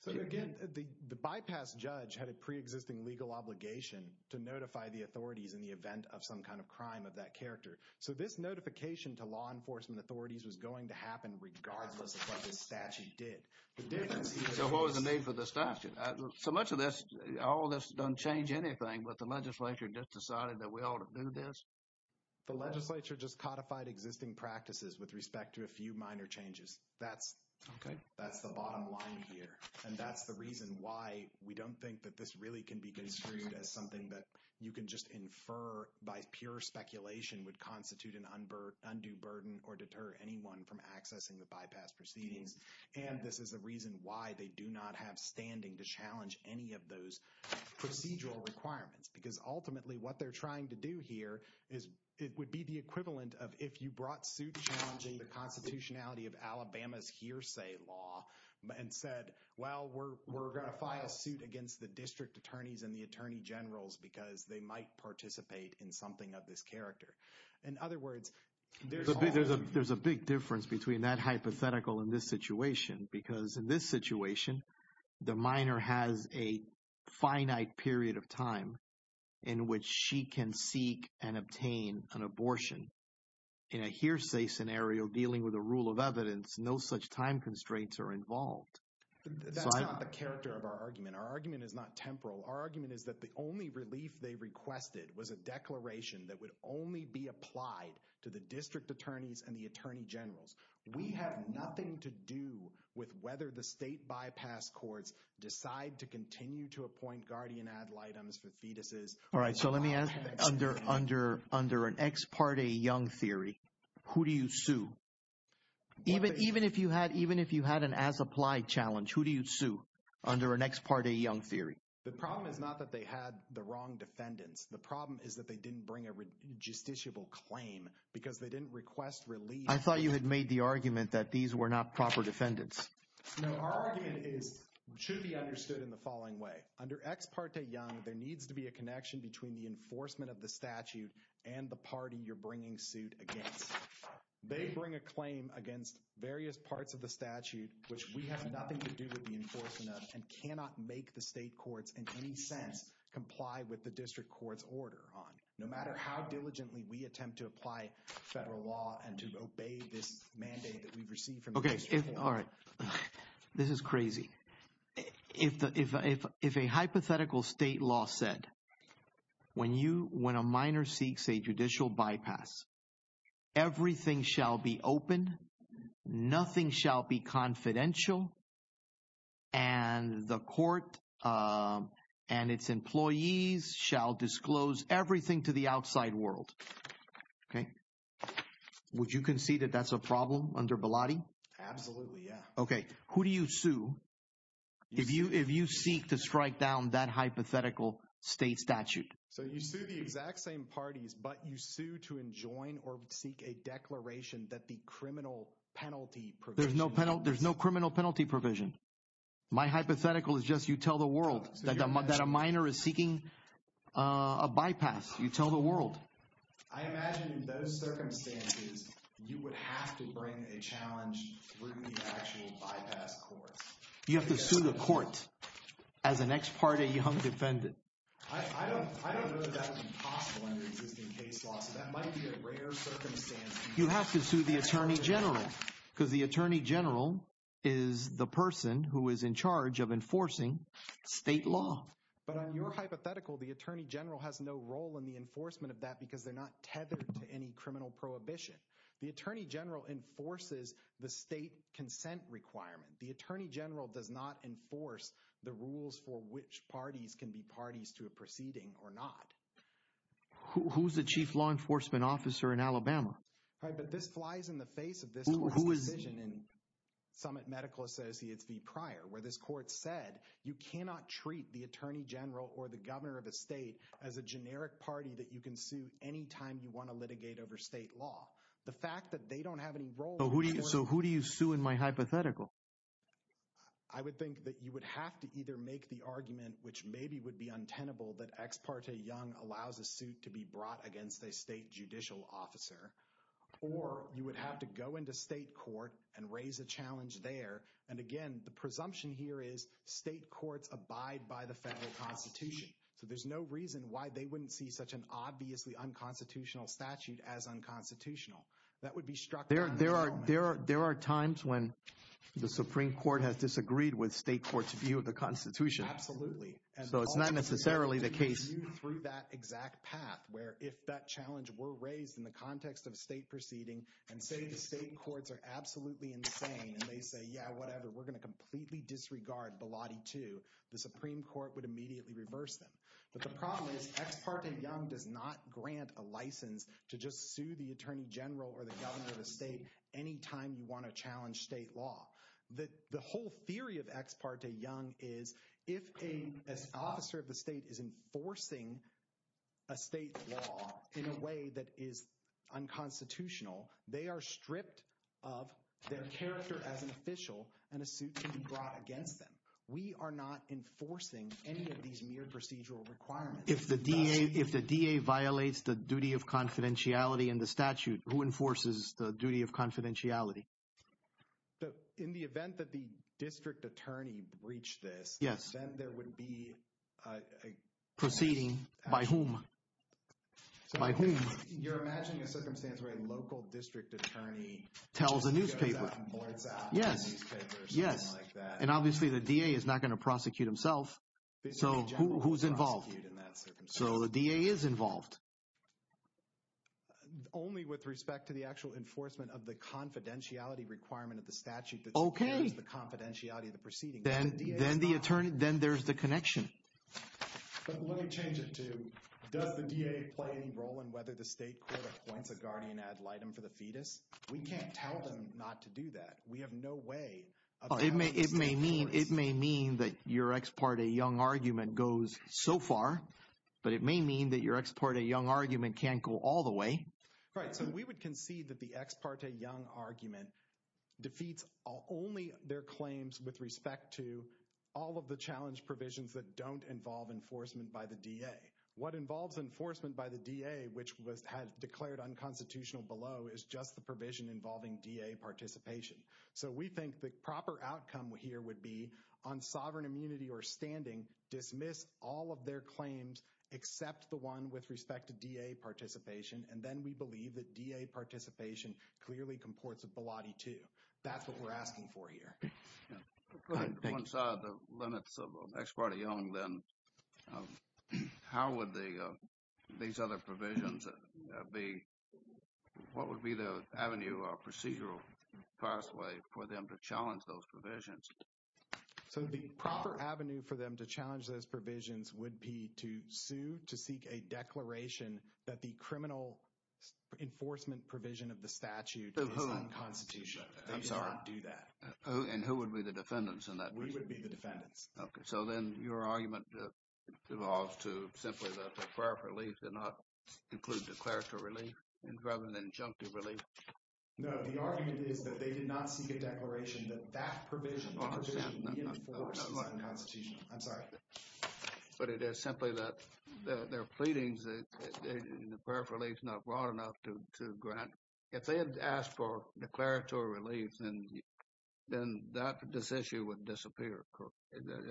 Again, the bypass judge had a pre-existing legal obligation to notify the authorities in the event of some kind of crime of that character. This notification to law enforcement authorities was going to happen regardless of what the statute did. What was the name for the statute? So much of this, all this doesn't change anything, but the legislature just decided that we ought to do this? The legislature just codified existing practices with respect to a few minor changes. That's the bottom line. And that's the reason why we don't think that this really can be construed as something that you can just infer by pure speculation would constitute an undue burden or deter anyone from accessing the bypass proceeding. And this is a reason why they do not have standing to challenge any of those procedural requirements, because ultimately what they're trying to do here is it would be the equivalent of if you brought suit challenging the constitutionality of the statute, you would have said, well, we're going to file a suit against the district attorneys and the attorney generals, because they might participate in something of this character. In other words, There's a big difference between that hypothetical in this situation, because in this situation, the minor has a finite period of time in which she can seek and obtain an abortion. In a hearsay scenario, dealing with a rule of evidence, no such time constraints are involved. That's not the character of our argument. Our argument is not temporal. Our argument is that the only relief they requested was a declaration that would only be applied to the district attorneys and the attorney generals. We have nothing to do with whether the state bypass courts decide to continue to appoint guardian ad litems for fetuses. All right. So let me ask under an ex parte young theory, who do you sue? Even if you had an as applied challenge, who do you sue under an ex parte young theory? The problem is not that they had the wrong defendants. The problem is that they didn't bring a justiciable claim because they didn't request relief. I thought you had made the argument that these were not proper defendants. Our argument is, should be understood in the following way. Under ex parte young, there needs to be a connection between the enforcement of the statute and the party you're bringing suit against. They bring a claim against various parts of the statute, which we have nothing to do with the enforcement of, and cannot make the state courts in any sense comply with the district court's order on it. No matter how diligently we attempt to apply federal law and to obey this mandate that we've received. Okay. All right. This is crazy. If a hypothetical state law said, when a minor seeks a judicial bypass, everything shall be open. Nothing shall be confidential. And the court and its employees shall disclose everything to the outside world. Okay. Would you concede that that's a problem under Bilotti? Absolutely. Yeah. Okay. Who do you sue? If you seek to strike down that hypothetical state statute. So you sue the exact same parties, but you sue to enjoin or seek a declaration that the criminal penalty. There's no penalty. There's no criminal penalty provision. My hypothetical is just, you tell the world. That a minor is seeking a bypass. You tell the world. I imagine in those circumstances, You would have to bring a challenge. You have to sue the court. As the next party, you have to defend it. You have to sue the attorney general. Because the attorney general is the person who is in charge of enforcing state law. But on your hypothetical, the attorney general has no role in the enforcement of that because they're not tethered to any criminal prohibition. The attorney general enforces the state consent requirement. The attorney general does not enforce the rules for which parties can be parties to a proceeding or not. Who's the chief law enforcement officer in Alabama? Right. But this flies in the face of this. Who is. Summit medical associates be prior where this court said, you cannot treat the attorney general or the governor of the state as a criminal. the state court says you can sue the attorney general. Anytime you want to litigate over state law. The fact that they don't have any role. So who do you sue in my hypothetical. I would think that you would have to either make the argument, which maybe would be untenable that X, parts a young allows a suit to be brought against a state judicial officer. Or you would have to go into state court and raise a challenge there. And again, the presumption here is state courts abide by the federal constitution. So there's no reason why they wouldn't see such an obviously unconstitutional statute as unconstitutional. That would be struck there. There are, there are, there are times when the Supreme court has disagreed with state courts view of the constitution. Absolutely. So it's not necessarily the case through that exact path, where if that challenge were raised in the context of state proceeding and say, the state courts are absolutely insane. And they say, yeah, whatever, we're going to completely disregard the Lottie to the Supreme court would immediately reverse them. But the problem is X part and young does not grant a license to just sue the attorney general or the governor of the state. Anytime you want to challenge state law, that the whole theory of X part to young is if a, as officer of the state is enforcing a state law in a way that is unconstitutional, they are stripped of their character as an official and a suit to be brought against them. We are not enforcing any of these near procedural requirements. If the DA, if the DA violates the duty of confidentiality in the statute, who enforces the duty of confidentiality? So in the event that the district attorney breached this, yes, there would be a proceeding by whom, by who tells a newspaper. Yes. Yes. And obviously the DA is not going to prosecute himself. So who's involved in that? So the DA is involved. Only with respect to the actual enforcement of the confidentiality requirement of the statute, the confidentiality of the proceeding, then the attorney, then there's the connection. But when it changes to does the VA play any role in whether the state court wants a guardian ad litem for the fetus, we can't tell them not to do that. We have no way. It may, it may mean, it may mean that your X part, a young argument goes so far, but it may mean that your X part, a young argument can't go all the way. Right. So we would concede that the X part, a young argument defeats only their claims with respect to all of the other claims. So we're not going to challenge provisions that don't involve enforcement by the DA. What involves enforcement by the DA, which was has declared unconstitutional below is just the provision involving DA participation. So we think the proper outcome here would be on sovereign immunity or standing dismiss all of their claims. Except the one with respect to DA participation. And then we believe that DA participation clearly comports a Pilate too. That's what we're asking for here. The limits of X part of young, then how would the, these other provisions be, what would be the avenue or procedural pathway for them to challenge those provisions? So the proper avenue for them to challenge those provisions would be to sue, to seek a declaration that the criminal enforcement provision of the statute constitution. Do that. And who would be the defendants in that? We would be the defendants. Okay. So then your argument evolves to simply that the prior release did not include the clerical relief and rather than injunctive relief. No, the argument is that they did not seek a declaration that that provision constitution. I'm sorry, but it is simply that there are pleadings that they, the paraphernalia is not broad enough to grant. If they had asked for declaratory relief, then that this issue would disappear.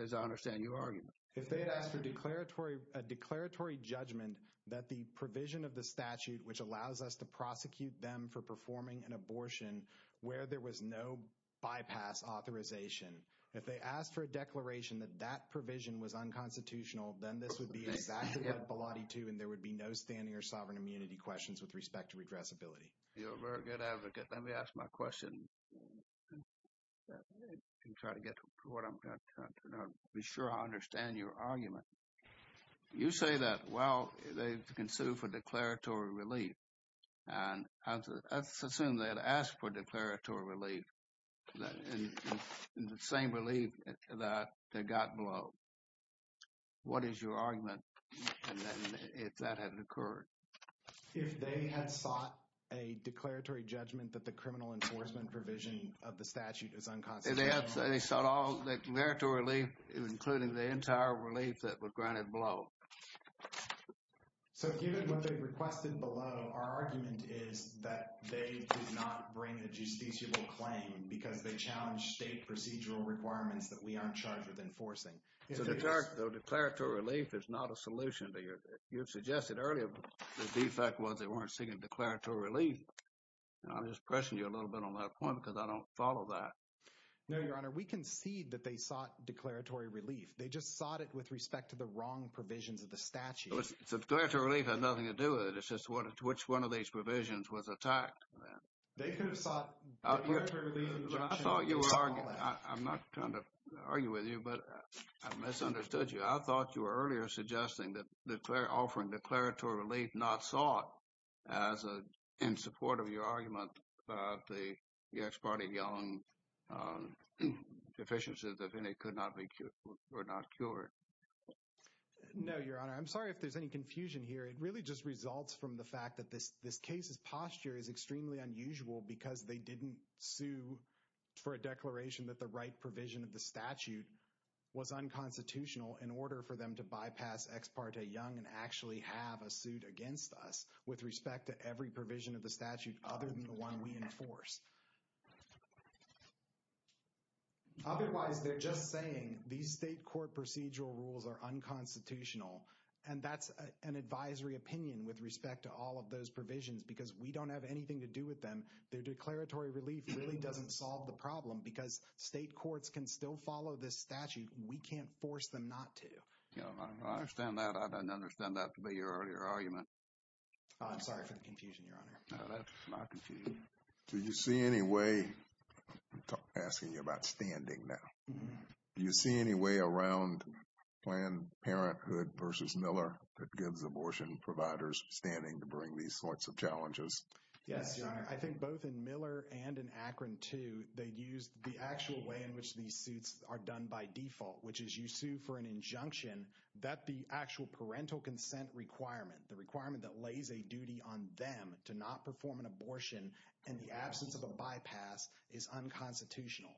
As I understand your argument, if they asked a declaratory, a declaratory judgment that the provision of the statute, which allows us to prosecute them for performing an abortion where there was no bypass authorization. If they asked for a declaration that that provision was unconstitutional, then this would be exactly that body too. And there would be no standing or sovereign immunity questions with respect to regressibility. You're a very good advocate. Let me ask my question. I'm trying to get to what I'm trying to be sure. I understand your argument. You say that, well, they can sue for declaratory relief. And I assume that asked for declaratory relief, the same relief that they got below. What is your argument? And then if that hadn't occurred, if they had sought a declaratory judgment that the criminal enforcement provision of the statute is unconstitutional. And they sought all the declaratory relief, including the entire relief that was granted below. So, given what they requested below, our argument is that they did not bring the justiciable claim because they challenged state procedural requirements that we aren't charged with enforcing. The declaratory relief is not a solution to your, to your question. I'm not trying to argue with you, I thought you were earlier suggesting that the declaratory relief was unconstitutional. I'm not trying to argue with you. I'm just pressing you a little bit on that point because I don't follow that. No, Your Honor. We can see that they thought declaratory relief. They just thought it with respect to the wrong provisions of the statute. It has nothing to do with it. It's just what, which one of these provisions was attacked. I'm not trying to argue with you, but I misunderstood you. I thought you were earlier suggesting that they're offering declaratory relief, not sought as a, in support of your argument, the ex parte young deficiencies, if any could not be cured or not cured. No, Your Honor. I'm sorry if there's any confusion here. It really just results from the fact that this, this case is posture is extremely unusual because they didn't sue for a declaration that the right provision of the statute was unconstitutional in order for them to bypass ex parte young and actually have a suit against us with respect to every provision of the statute, other than the one we enforce. Otherwise they're just saying these state court procedural rules are unconstitutional. And that's an advisory opinion with respect to all of those provisions because we don't have anything to do with them. Their declaratory relief really doesn't solve the problem because state courts can still follow this statute. We can't force them not to. I don't understand that. I don't understand that to be your earlier argument. I'm sorry for the confusion, Your Honor. No, that's not confusing. Do you see any way, I'm asking you about standing now, Do you see any way around Planned Parenthood versus Miller that gives abortion providers standing to bring these sorts of challenges? Yes, Your Honor. I think both in Miller and in Akron too, they used the actual way in which these suits are done by default, which is you sue for an injunction that the actual parental consent requirement, the requirement that lays a duty on them to not perform an abortion and the absence of a bypass is unconstitutional.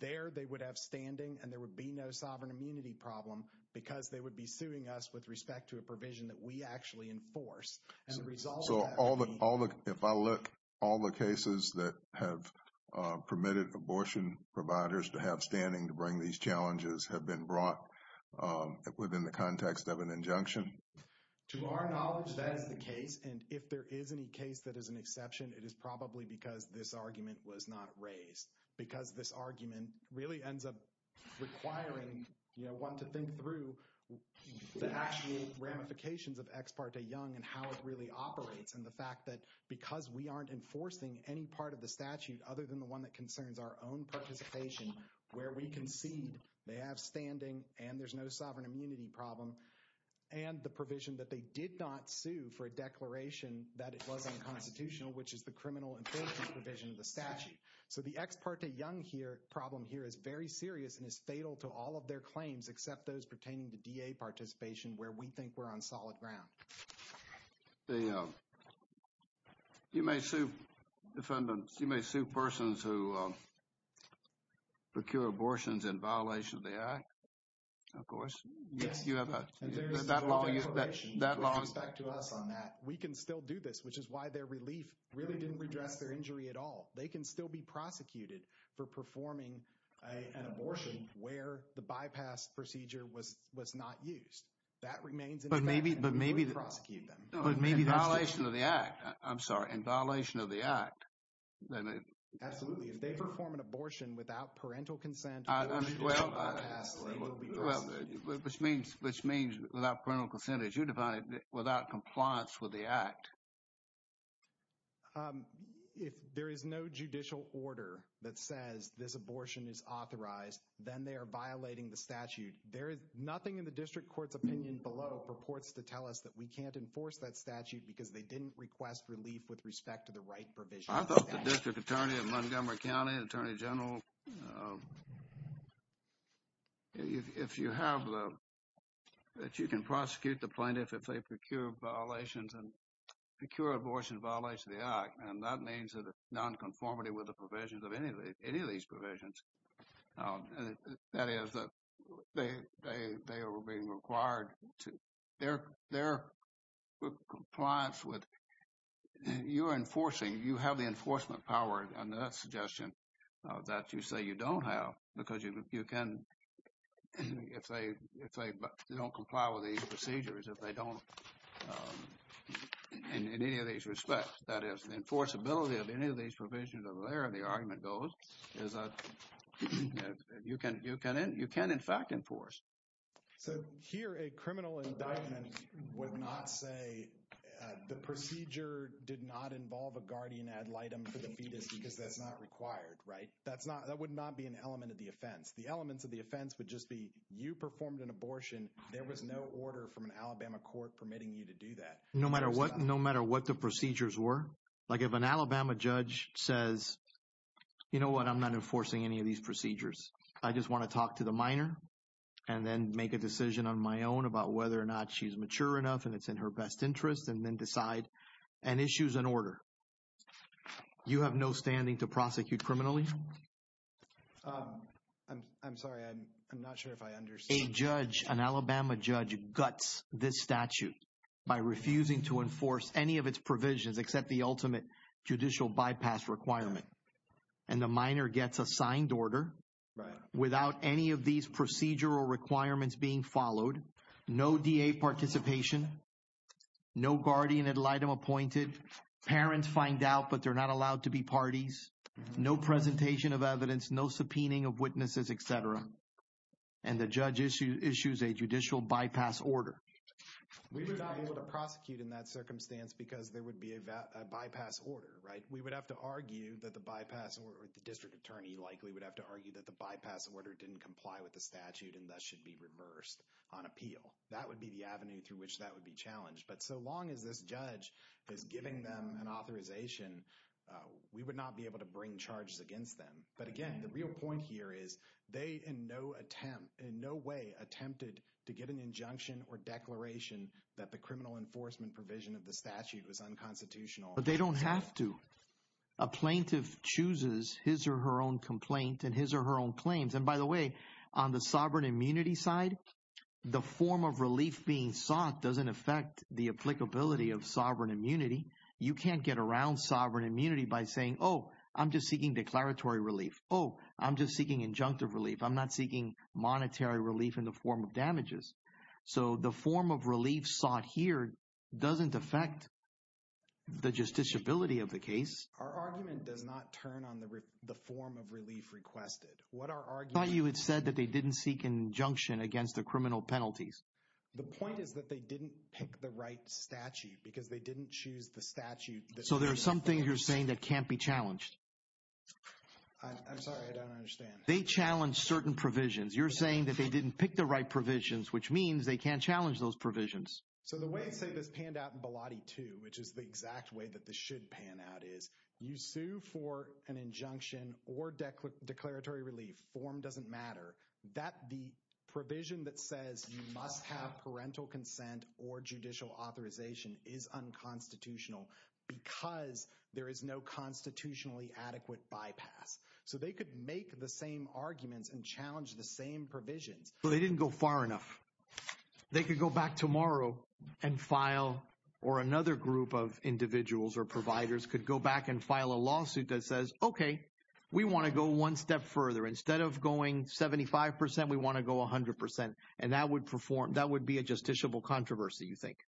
There, they would have standing and there would be no sovereign immunity problem because they would be suing us with respect to a provision that we actually enforce. So if I look, all the cases that have permitted abortion providers to have standing to bring these challenges have been brought within the context of an injunction? To our knowledge, that is the case. And if there is any case that is an exception, it is probably because this argument was not raised. Because this argument really ends up requiring, you know, one to think through the actual ramifications of Ex Parte Young and how it really operates. And the fact that because we aren't enforcing any part of the statute, other than the one that concerns our own participation, where we concede, they have standing and there's no sovereign immunity problem. And the provision that they did not sue for a declaration that it was unconstitutional, which is the criminal enforcement provision of the statute. So the Ex Parte Young problem here is very serious and is fatal to all of their claims, except those pertaining to DA participation where we think we're on solid ground. You may sue persons who procure abortions in violation of the act. Of course. We can still do this, which is why their relief really didn't redress their injury at all. They can still be prosecuted for performing an abortion where the bypass procedure was not used. But maybe in violation of the act. I'm sorry. In violation of the act. Absolutely. If they perform an abortion without parental consent. Which means without parental consent as you defined it, without compliance with the act. If there is no judicial order that says this abortion is authorized, then they are violating the statute. There is nothing in the district court's opinion below purports to tell us that we can't enforce that statute because they didn't request relief with respect to the right provision. I thought the district attorney at Montgomery County, attorney general, if you have that, you can prosecute the plaintiff if they procure violations and procure abortions in violation of the act. And that means that it's nonconformity with the provisions of any of these provisions. That is that they are being required to, their compliance with, you are enforcing, you have the enforcement power under that suggestion that you say you don't have, because you can, if they don't comply with these procedures, if they don't in any of these respects, that is the enforceability of any of these provisions over there. And the argument goes is that you can, you can, you can in fact enforce. So here a criminal indictment would not say the procedure did not involve a guardian ad litem for the fetus because that's not required, right? That's not, that would not be an element of the offense. The elements of the offense would just be you performed an abortion. There was no order from an Alabama court permitting you to do that. No matter what, no matter what the procedures were. Like if an Alabama judge says, you know what? I'm not enforcing any of these procedures. I just want to talk to the minor and then make a decision on my own about whether or not she's mature enough and it's in her best interest and then decide and issues an order. You have no standing to prosecute criminally. I'm sorry. I'm not sure if I understand. A judge, an Alabama judge guts this statute by refusing to enforce any of its provisions, except the ultimate judicial bypass requirement. And the minor gets a signed order. Right. Without any of these procedural requirements being followed, no DA participation, no guardian ad litem appointed. Parents find out, but they're not allowed to be parties. No presentation of evidence, no subpoenaing of witnesses, et cetera. And the judge issues a judicial bypass order. We were not able to prosecute in that circumstance because there would be a bypass order, right? We would have to argue that the bypass or the district attorney likely would have to argue that the bypass order didn't comply with the statute and that should be reversed on appeal. That would be the avenue through which that would be challenged. But so long as this judge is giving them an authorization, we would not be able to bring charges against them. But again, the real point here is they in no attempt in no way attempted to get an injunction or declaration that the criminal enforcement provision of the statute was unconstitutional. But they don't have to. A plaintiff chooses his or her own complaint and his or her own claims. And by the way, on the sovereign immunity side, the form of relief being sought doesn't affect the applicability of sovereign immunity. You can't get around sovereign immunity by saying, oh, I'm just seeking declaratory relief. Oh, I'm just seeking injunctive relief. I'm not seeking monetary relief in the form of damages. So the form of relief sought here doesn't affect the justiciability of the case. Our argument does not turn on the form of relief requested. What our argument. You had said that they didn't seek injunction against the criminal penalties. The point is that they didn't pick the right statute because they didn't choose the statute. So there's some things you're saying that can't be challenged. I'm sorry. I don't understand. They challenge certain provisions. You're saying that they didn't pick the right provisions, which means they can't challenge those provisions. So the way I say this panned out in Baladi too, which is the exact way that this should pan out is you sue for an injunction or deck with declaratory relief form doesn't matter that the provision that says you must have parental consent or judicial authorization is unconstitutional because there is no constitutionally adequate bypass. So they could make the same arguments and challenge the same provision. Well, they didn't go far enough. They could go back tomorrow and file, or another group of individuals or providers could go back and file a lawsuit that says, okay, we want to go one step further. Instead of going 75%, we want to go 100%. And that would be a justiciable controversy, you think.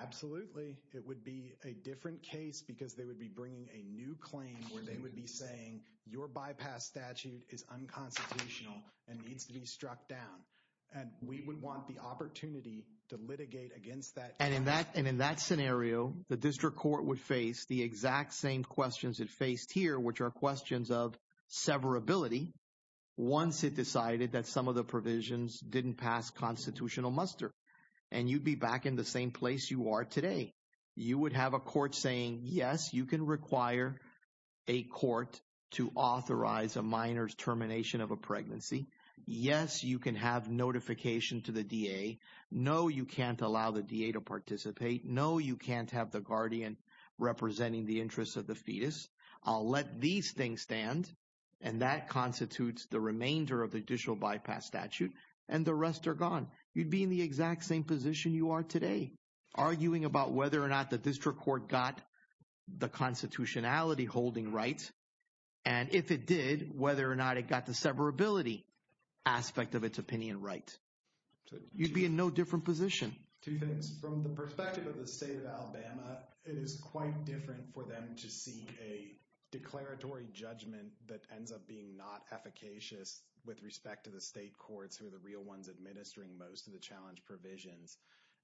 Absolutely. It would be a different case because they would be bringing a new claim where they would be saying your bypass statute is unconstitutional and needs to be struck down. And we would want the opportunity to litigate against that. And in that scenario, the district court would face the exact same questions it faced here, which are questions of severability. Once it decided that some of the provisions didn't pass constitutional muster, and you'd be back in the same place you are today, you would have a court saying, yes, you can require a court to authorize a minor's termination of a pregnancy. Yes, you can have notification to the DA. No, you can't allow the DA to participate. No, you can't have the guardian representing the interests of the fetus. I'll let these things stand. And that constitutes the remainder of the judicial bypass statute. And the rest are gone. You'd be in the exact same position you are today, arguing about whether or not the district court got the constitutionality holding rights, and if it did, whether or not it got the severability aspect of its opinion right. You'd be in no different position. Two things. From the perspective of the state of Alabama, it is quite different for them to see a declaratory judgment that ends up being not efficacious with respect to the state courts who are the real ones administering most of the challenge provisions.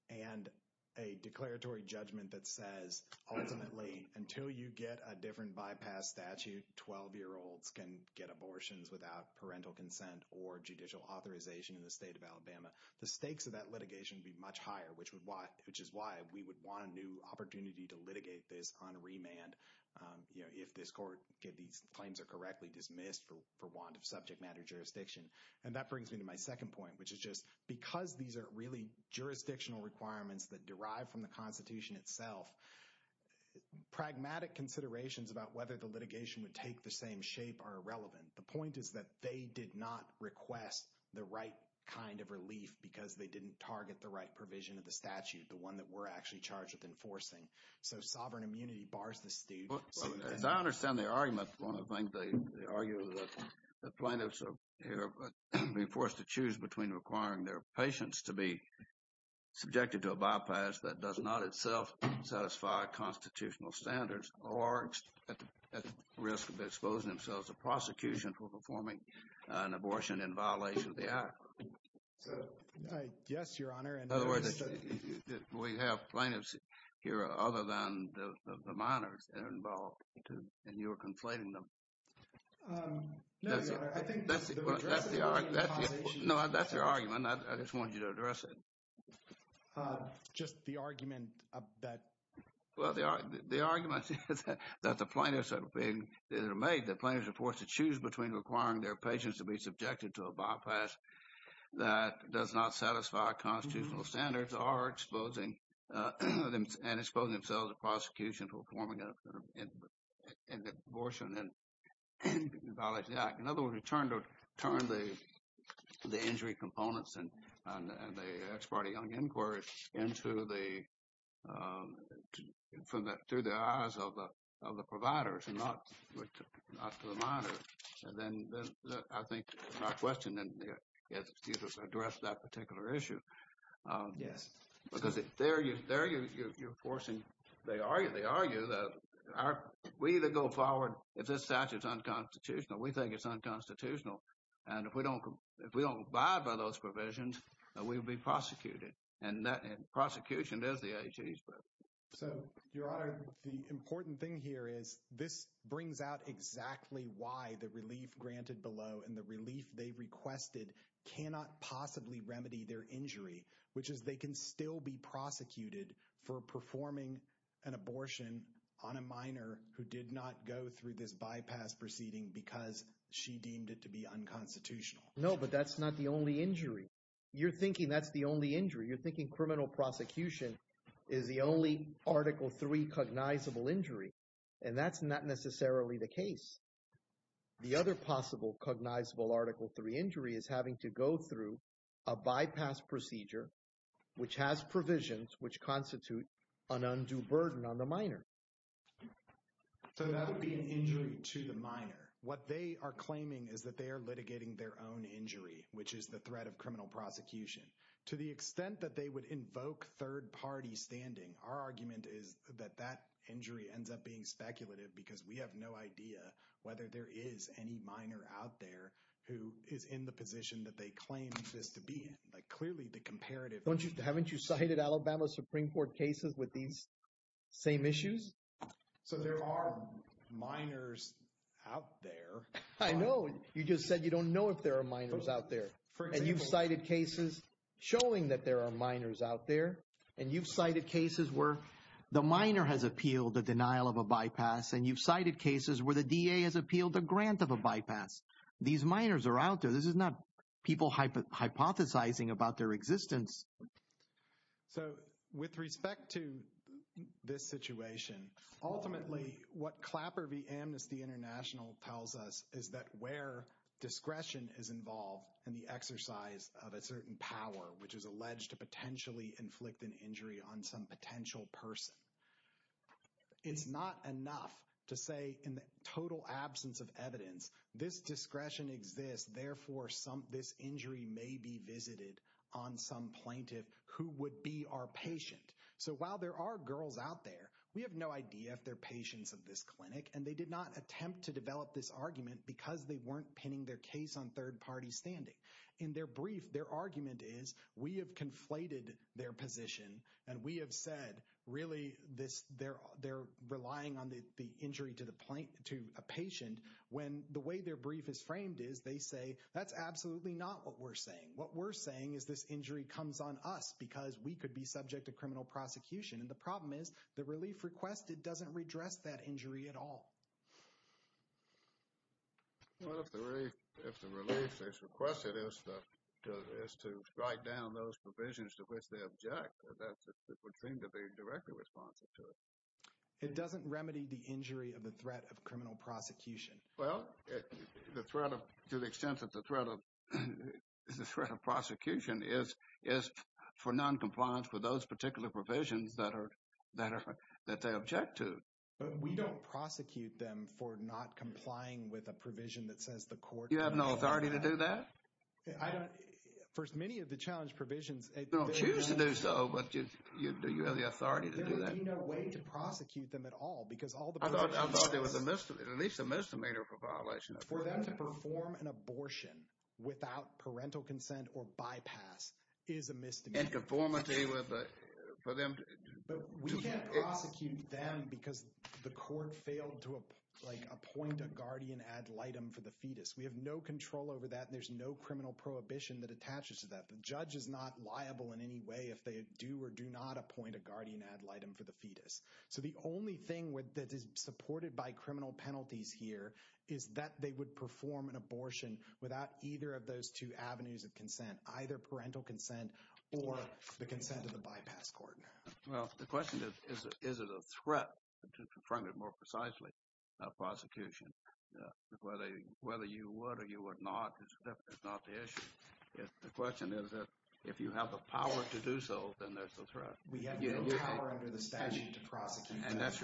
And a declaratory judgment that says, ultimately, until you get a different bypass statute, 12-year-olds can get abortions without parental consent or judicial authorization in the state of Alabama. The stakes of that litigation would be much higher, which is why we would want a new opportunity to litigate this on remand if these claims are correctly dismissed for want of subject matter jurisdiction. And that brings me to my second point, which is just because these are really jurisdictional requirements that derive from the constitution itself, pragmatic considerations about whether the litigation would take the same shape are irrelevant. The point is that they did not request the right kind of relief because they didn't target the right provision of the statute, the one that we're actually charged with enforcing. So sovereign immunity bars the state. I understand the argument. One of the things they argue is that plaintiffs are being forced to choose between requiring their patients to be subjected to a bypass that does not itself satisfy constitutional standards or at risk of exposing themselves to prosecution for performing an abortion in violation of the act. Yes, Your Honor. In other words, we have plaintiffs here other than the minors that are involved in your complaint. I think that's their argument. I just wanted you to address it. Just the argument of that. Well, the argument that the plaintiffs are being made, the plaintiffs are forced to choose between requiring their patients to be subjected to a bypass that does not satisfy constitutional standards or exposing and exposing themselves to prosecution for performing an abortion in violation of the act. In other words, it turned the injury components and the Asparte Young Inquiry into the, through the eyes of the providers and not the minors. And then I think my question is to address that particular issue. Yes. Because there you're forcing, they argue that we need to go forward. If this statute is unconstitutional, we think it's unconstitutional. And if we don't, if we don't abide by those provisions and we will be prosecuted and that prosecution is the agency. So Your Honor, the important thing here is this brings out exactly why the relief granted below and the relief they requested cannot possibly remedy their injury, which is they can still be prosecuted for performing an abortion on a minor who did not go through this bypass proceeding because she deemed it to be unconstitutional. No, but that's not the only injury you're thinking. That's the only injury you're thinking criminal prosecution is the only article three cognizable injury. And that's not necessarily the case. The other possible cognizable article three injury is having to go through a minor which has provisions, which constitute an undue burden on the minor. So that would be an injury to the minor. What they are claiming is that they are litigating their own injury, which is the threat of criminal prosecution to the extent that they would invoke third party standing. Our argument is that that injury ends up being speculative because we have no idea whether there is any minor out there who is in the position that they claim to be like clearly the comparative. Haven't you cited Alabama Supreme court cases with these same issues? So there are minors out there. I know you just said, you don't know if there are minors out there. And you've cited cases showing that there are minors out there. And you've cited cases where the minor has appealed the denial of a bypass. And you've cited cases where the DA has appealed a grant of a bypass. These minors are out there. This is not people hypothesizing about their existence. So with respect to this situation, ultimately what Clapper v. Amnesty International tells us is that where discretion is involved in the exercise of a certain power, which is alleged to potentially inflict an injury on some potential person. It's not enough to say in the total absence of evidence, this discretion exists, therefore this injury may be visited on some plaintiff who would be our patient. So while there are girls out there, we have no idea if they're patients of this clinic and they did not attempt to develop this argument because they weren't pinning their case on third party standing. In their brief, their argument is we have conflated their position and we have said really this, they're relying on the injury to the point to a patient when the way their brief is framed is they say, that's absolutely not what we're saying. What we're saying is this injury comes on us because we could be subject to criminal prosecution. And the problem is the relief requested doesn't redress that injury at all. Well, if the relief that's requested is to write down those provisions to which they object, that's what we're trained to be directly responsive to it. It doesn't remedy the injury of the threat of criminal prosecution. Well, to the extent that the threat of prosecution is for noncompliance with those particular provisions that they object to. We don't prosecute them for not complying with a provision that says the court- You have no authority to do that? First, many of the challenge provisions- You don't choose to do so, but you have the authority to do that. There's no way to prosecute them at all because all the- I thought there was at least a misdemeanor for violation of- For them to perform an abortion without parental consent or bypass is a misdemeanor. And conformity with the- We can't prosecute them because the court failed to appoint a guardian ad litem for the fetus. We have no control over that and there's no criminal prohibition that judges not liable in any way if they do or do not appoint a guardian ad litem for the fetus. So the only thing that is supported by criminal penalties here is that they would perform an abortion without either of those two avenues of consent, either parental consent or the consent of the bypass court. Well, the question is, is it a threat to confront it more precisely, a prosecution? Whether you would or you would not is not the issue. The question is if you have the power to do so, then that's a threat. We have the power under the statute to prosecute. And that's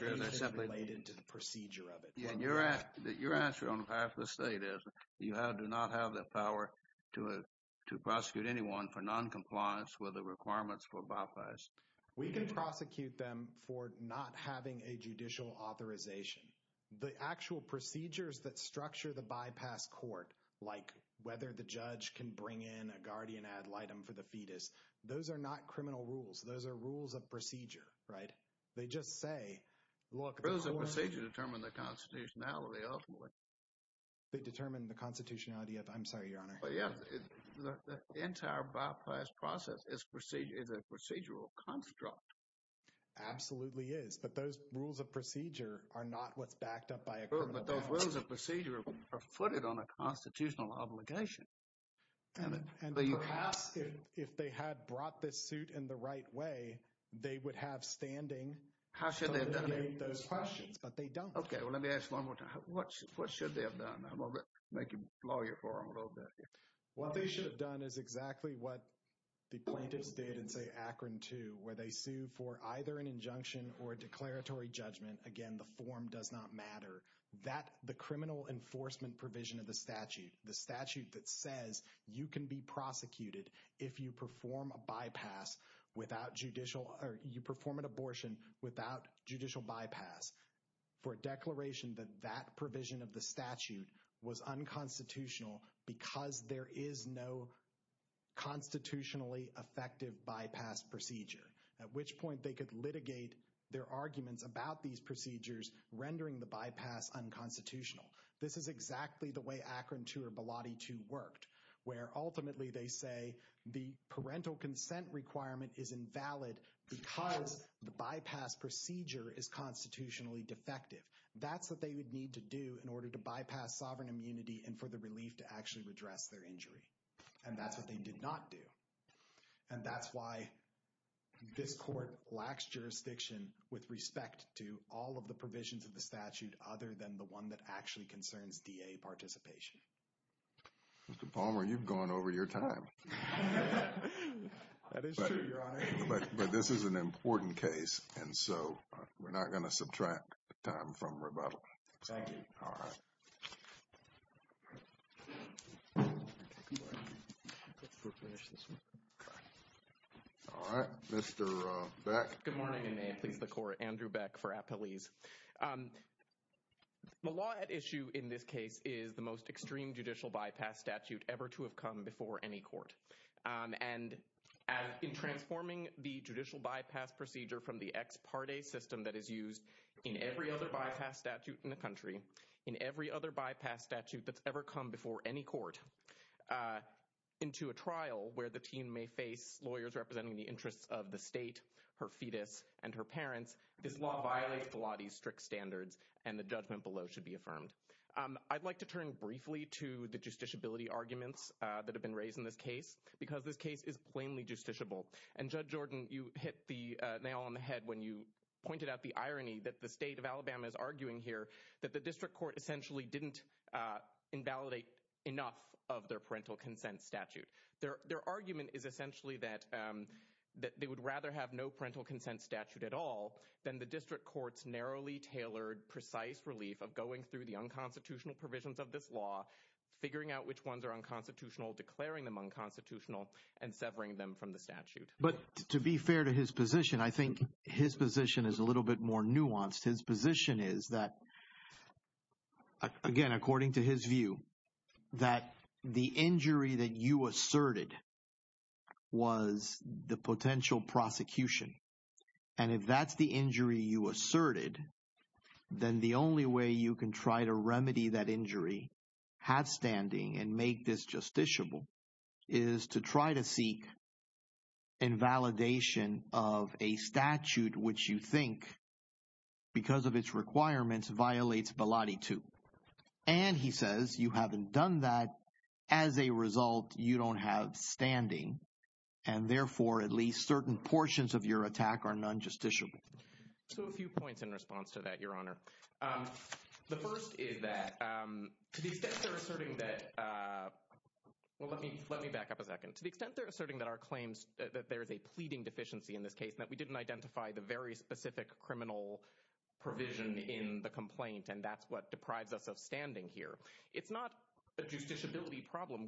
related to the procedure of it. And your answer on behalf of the state is you do not have the power to prosecute anyone for noncompliance with the requirements for bypass. We can prosecute them for not having a judicial authorization. The actual procedures that structure the bypass court, like whether the judge can bring in a guardian ad litem for the fetus. Those are not criminal rules. Those are rules of procedure, right? They just say, well, the rules of procedure determine the constitutionality ultimately. They determine the constitutionality of, I'm sorry, Your Honor. The entire bypass process is a procedural construct. Absolutely is. But those rules of procedure are not what's backed up by a criminal. But those rules of procedure are footed on a constitutional obligation. And perhaps if they had brought this suit in the right way, they would have standing. How should they have done those questions? But they don't. Okay. Well, let me ask one more time. What should they have done? I'm going to make a lawyer for him a little bit. What they should have done is exactly what the plaintiffs did in say, Akron too, where they sued for either an injunction or a declaratory judgment. Again, the form does not matter. That the criminal enforcement provision of the statute, the statute that says you can be prosecuted. If you perform a bypass without judicial or you perform an abortion without judicial bypass. For declaration that that provision of the statute was unconstitutional because there is no constitutionally effective bypass procedure, at which point they could litigate their arguments about these procedures, rendering the bypass unconstitutional. This is exactly the way Akron too, or Biladi too worked where ultimately they say the parental consent requirement is invalid because the bypass procedure is constitutionally defective. That's what they would need to do in order to bypass sovereign immunity and for the relief to actually redress their injury. And that's what they did not do. And that's why this court lacks jurisdiction with respect to all of the provisions of the statute, other than the one that actually concerns DA participation. Mr. Palmer, you've gone over your time. But this is an important case. And so we're not going to subtract time from rebuttal. All right. Mr. Beck. Good morning. My name is Andrew Beck for Appalese. The law at issue in this case is the most extreme judicial bypass statute ever to have come before any court. And in transforming the judicial bypass procedure from the ex parte system that is used in every other bypass statute in the country, in every other bypass statute that's ever come before any court into a trial where the team may face lawyers representing the interests of the state, her fetus and her parents, this law violates a lot of these strict standards and the judgment below should be affirmed. I'd like to turn briefly to the justiciability arguments that have been raised in this case, because this case is plainly justiciable. And Judge Jordan, you hit the nail on the head when you pointed out the irony that the state of Alabama is arguing here that the district court essentially didn't invalidate enough of their parental consent statute. Their argument is essentially that they would rather have no parental consent statute at all than the district court's narrowly tailored, precise relief of going through the unconstitutional provisions of this law, figuring out which ones are unconstitutional, declaring them unconstitutional and severing them from the statute. But to be fair to his position, I think his position is a little bit more nuanced. His position is that, again, according to his view, that the injury that you asserted was the potential prosecution. And if that's the injury you asserted, then the only way you can try to remedy that injury, have standing and make this justiciable, is to try to seek invalidation of a statute which you think, because of its requirements, violates Bellotti II. And he says you haven't done that. As a result, you don't have standing. And therefore, at least certain portions of your attack are non-justiciable. So a few points in response to that, Your Honor. The first is that to the extent they're asserting that – well, let me back up a second. To the extent they're asserting that our claims – that there is a pleading deficiency in this case, that we didn't identify the very specific criminal provision in the complaint, and that's what deprived us of standing here. It's not a justiciability problem.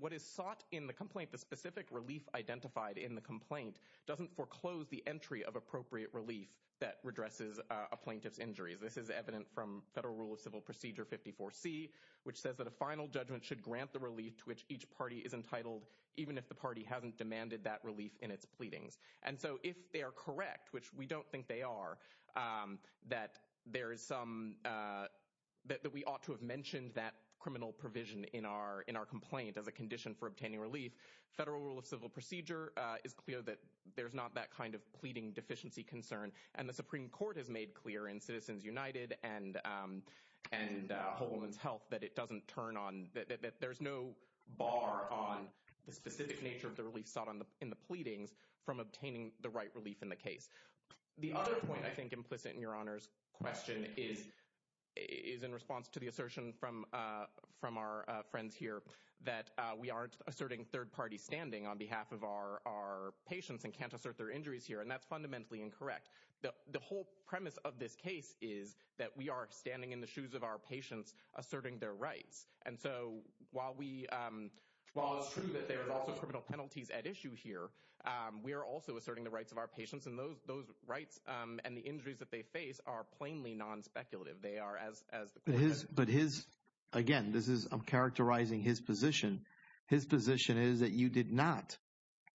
What is sought in the complaint, the specific relief identified in the complaint, doesn't foreclose the entry of appropriate relief that redresses a plaintiff's injury. This is evident from Federal Rule of Civil Procedure 54C, which says that a final judgment should grant the relief to which each party is entitled, even if the party hasn't demanded that relief in its pleading. And so if they are correct, which we don't think they are, that there is some – that we ought to have mentioned that criminal provision in our complaint of a condition for obtaining relief, Federal Rule of Civil Procedure is clear that there's not that kind of pleading deficiency concern. And the Supreme Court has made clear in Citizens United and Whole Woman's Health that it doesn't turn on – that there's no bar on the specific nature of the pleadings from obtaining the right relief in the case. The other point I think implicit in Your Honor's question is in response to the assertion from our friends here that we aren't asserting third-party standing on behalf of our patients and can't assert their injuries here, and that's fundamentally incorrect. The whole premise of this case is that we are standing in the shoes of our patients asserting their rights. And so while we – while it's true that there are also criminal penalties at issue here, we are also asserting the rights of our patients. And those rights and the injuries that they face are plainly nonspeculative. They are as – But his – again, this is – I'm characterizing his position. His position is that you did not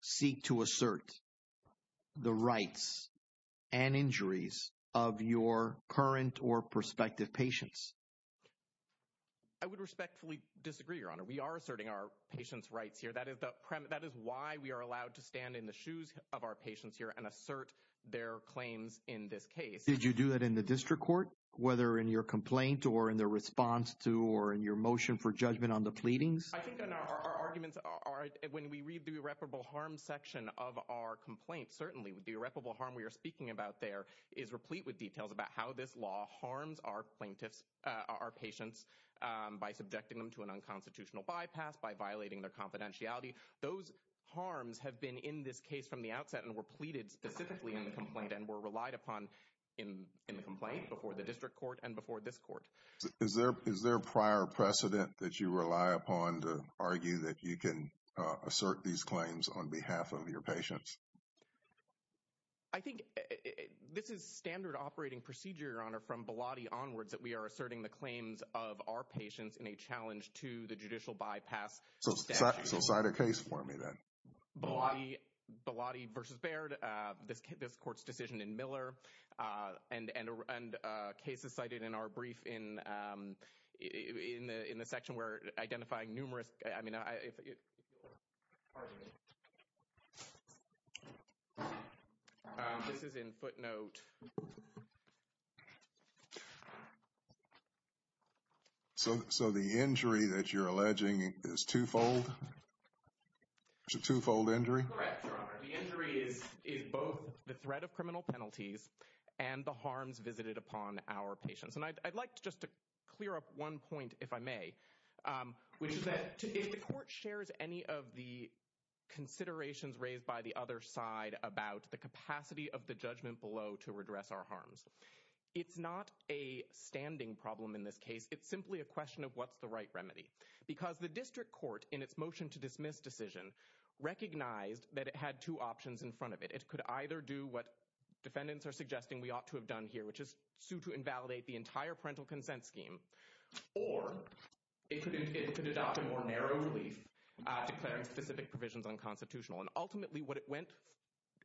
seek to assert the rights and injuries of your current or prospective patients. I would respectfully disagree, Your Honor. We are asserting our patients' rights here. That is the premise – that is why we are allowed to stand in the shoes of our patients here and assert their claims in this case. Did you do that in the district court, whether in your complaint or in the response to or in your motion for judgment on the pleadings? I think, Your Honor, our arguments are – when we read the irreparable harm section of our complaint, certainly the irreparable harm we are speaking about there is replete with details about how this law harms our patients by subjecting them to an unconstitutional bypass, by violating their confidentiality. Those harms have been in this case from the outset and were pleaded specifically in the complaint and were relied upon in the complaint before the district court and before this court. Is there a prior precedent that you rely upon to argue that you can assert these claims on behalf of your patients? I think this is standard operating procedure, Your Honor, from Belotti onwards that we are asserting the claims of our patients in a challenge to the judicial bypass statute. So set a case for me then. Belotti v. Baird, this court's decision in Miller, and cases cited in our This is in footnote. So the injury that you're alleging is twofold? It's a twofold injury? Correct, Your Honor. The injury is both the threat of criminal penalties and the harms visited upon our patients. And I'd like just to clear up one point, if I may, which is that if the court shares any of the considerations raised by the other side about the capacity of the judgment below to redress our harms, it's not a standing problem in this case. It's simply a question of what's the right remedy, because the district court in its motion to dismiss decision recognized that it had two options in front of it. It could either do what defendants are suggesting we ought to have done here, which is sue to invalidate the entire parental consent scheme, or it could adopt a more narrow relief, declaring specific provisions unconstitutional. And ultimately what it went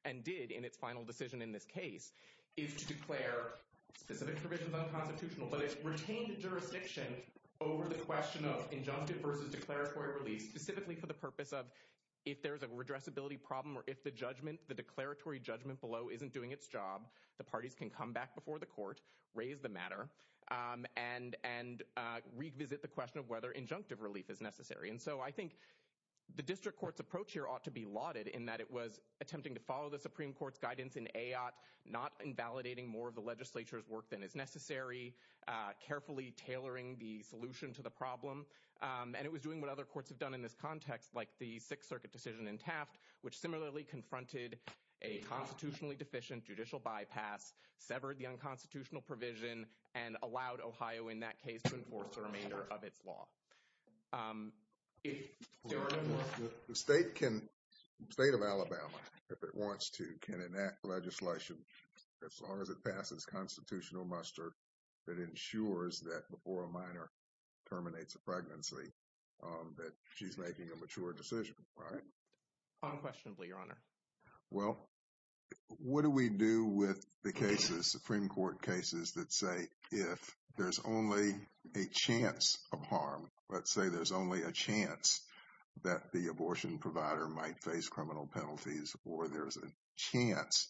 and did in its final decision in this case is to declare specific provisions unconstitutional. But it retained the jurisdiction over the question of injunctive versus declaratory relief, specifically for the purpose of if there's a redressability problem or if the judgment, the declaratory judgment below isn't doing its job, the parties can come back before the court, raise the matter, and revisit the case as necessary. And so I think the district court's approach here ought to be lauded in that it was attempting to follow the Supreme Court's guidance in AOT, not invalidating more of the legislature's work than is necessary, carefully tailoring the solution to the problem, and it was doing what other courts have done in this context, like the Sixth Circuit decision in Taft, which similarly confronted a constitutionally deficient judicial bypass, severed the unconstitutional provision, and allowed Ohio in that case to enforce the judicial bypass. The state can, the state of Alabama, if it wants to, can enact legislation as far as it passes constitutional muster that ensures that before a minor terminates a pregnancy that she's making a mature decision, right? Unquestionably, Your Honor. Well, what do we do with the cases, Supreme Court cases that say if there's only a chance of harm, let's say there's only a chance that the abortion provider might face criminal penalties or there's a chance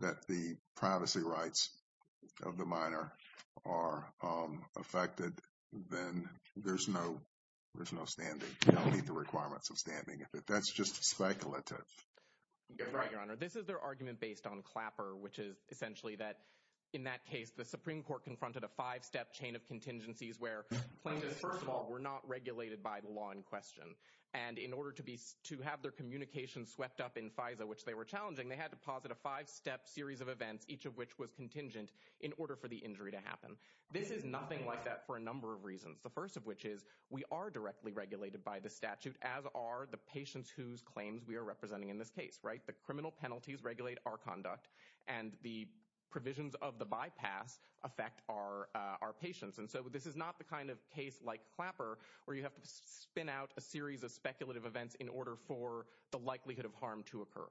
that the privacy rights of the minor are affected, then there's no standing to meet the requirements of standing. That's just speculative. Right, Your Honor. This is their argument based on Clapper, which is essentially that in that case, the Supreme Court confronted a five-step chain of contingencies where first of all, we're not regulated by the law in question. And in order to have their communication swept up in FISA, which they were challenging, they had to posit a five-step series of events, each of which was contingent, in order for the injury to happen. This is nothing like that for a number of reasons. The first of which is we are directly regulated by the statute, as are the patients whose claims we are representing in this case, right? The criminal penalties regulate our conduct, and the provisions of the bypass affect our patients. And so this is not the kind of case like Clapper where you have to spin out a series of speculative events in order for the likelihood of harm to occur.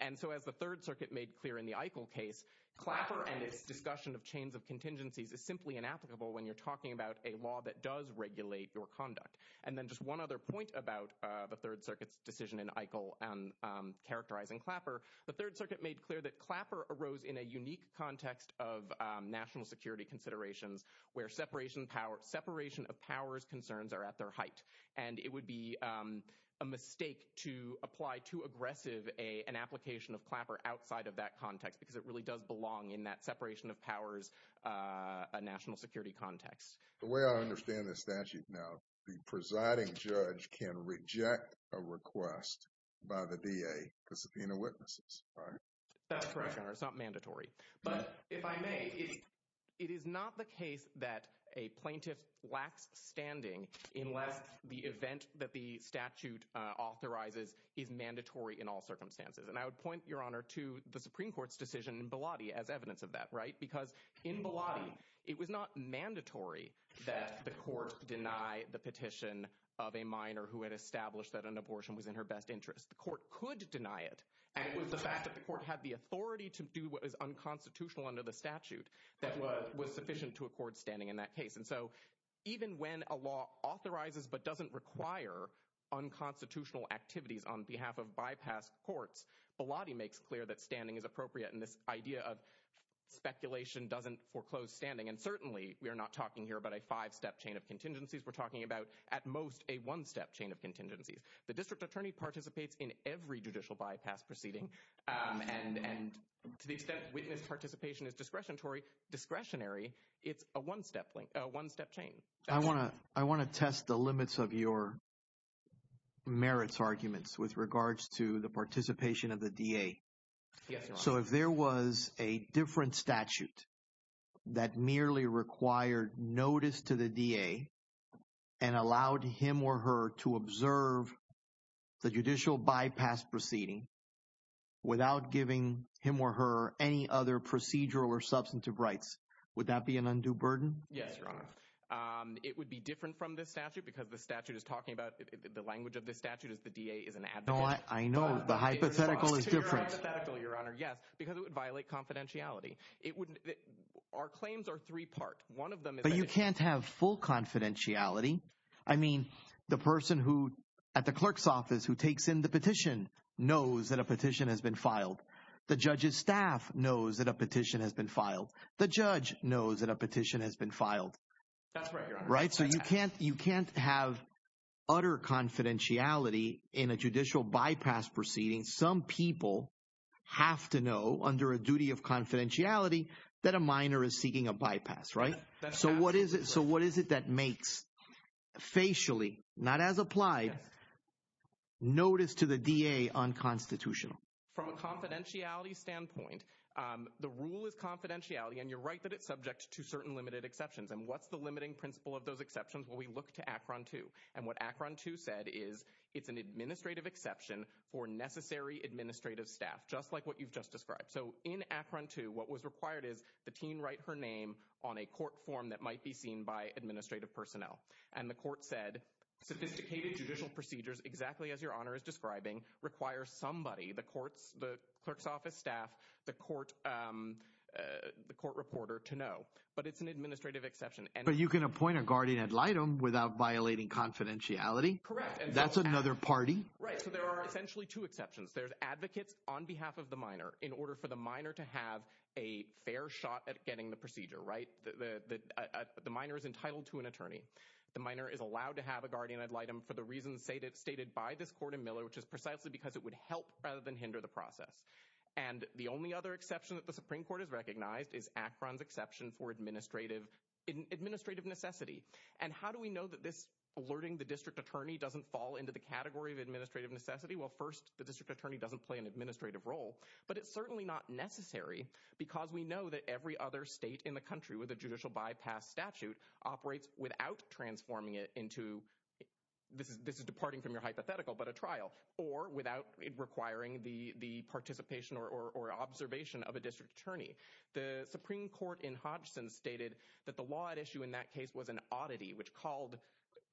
And so as the Third Circuit made clear in the Eichel case, Clapper and its discussion of chains of contingencies is simply inapplicable when you're talking about a law that does regulate your conduct. And then just one other point about the Third Circuit's decision in Eichel characterizing Clapper, the Third Circuit made clear that Clapper arose in a unique context of national security considerations where separation of powers concerns are at their height. And it would be a mistake to apply too aggressive an application of Clapper outside of that context because it really does belong in that separation of powers national security context. The way I understand the statute now, the presiding judge can reject a request by the DA to subpoena witnesses, right? That's correct, Your Honor. It's not mandatory. But if I may, it is not the case that a plaintiff lacks standing unless the event that the statute authorizes is mandatory in all circumstances. And I would point, Your Honor, to the Supreme Court's decision in Bellotti as evidence of that, right? Because in Bellotti, it was not mandatory that the court deny the petition of a minor who had established that an abortion was in her best interest. The court could deny it, and it was the fact that the court had the authority to do what is unconstitutional under the statute that was sufficient to a court standing in that case. And so even when a law authorizes but doesn't require unconstitutional activities on behalf of bypass courts, Bellotti makes clear that standing is And certainly we are not talking here about a five-step chain of contingencies. We're talking about at most a one-step chain of contingencies. The district attorney participates in every judicial bypass proceeding. And to the extent witness participation is discretionary, it's a one-step chain. I want to test the limits of your merits arguments with regards to the participation of the DA. Yes, Your Honor. So if there was a different statute that merely required notice to the DA and allowed him or her to observe the judicial bypass proceeding without giving him or her any other procedural or substantive rights, would that be an undue burden? Yes, Your Honor. It would be different from this statute because the statute is talking about the language of the statute is the DA is an advocate. I know. The hypothetical is different. The hypothetical, Your Honor, yes, because it would violate confidentiality. Our claims are three-part. But you can't have full confidentiality. I mean, the person at the clerk's office who takes in the petition knows that a petition has been filed. The judge's staff knows that a petition has been filed. The judge knows that a petition has been filed. That's right, Your Honor. Right? So you can't have utter confidentiality in a judicial bypass proceeding. Some people have to know under a duty of confidentiality that a minor is seeking a bypass, right? So what is it that makes facially, not as applied, notice to the DA unconstitutional? From a confidentiality standpoint, the rule is confidentiality, and you're right that it's subject to certain limited exceptions. And what's the limiting principle of those exceptions? Well, we look to ACRON 2. And what ACRON 2 said is it's an administrative exception for necessary administrative staff, just like what you've just described. So in ACRON 2, what was required is the teen write her name on a court form that might be seen by administrative personnel. And the court said sophisticated judicial procedures, exactly as Your Honor is describing, requires somebody, the clerk's office staff, the court reporter, to know. But it's an administrative exception. But you can appoint a guardian ad litem without violating confidentiality? Correct. That's another party? Right. So there are essentially two exceptions. There's advocates on behalf of the minor in order for the minor to have a fair shot at getting the procedure, right? The minor is entitled to an attorney. The minor is allowed to have a guardian ad litem for the reasons stated by this court in Miller, which is precisely because it would help rather than hinder the process. And the only other exception that the Supreme Court has recognized is ACRON's exception for administrative necessity. And how do we know that this alerting the district attorney doesn't fall into the category of administrative necessity? Well, first, the district attorney doesn't play an administrative role. But it's certainly not necessary because we know that every other state in the country with a judicial bypass statute operates without transforming it into this is departing from your hypothetical, but a trial, or without requiring the participation or observation of a district attorney. The Supreme Court in Hodgson stated that the law at issue in that case was an oddity, which called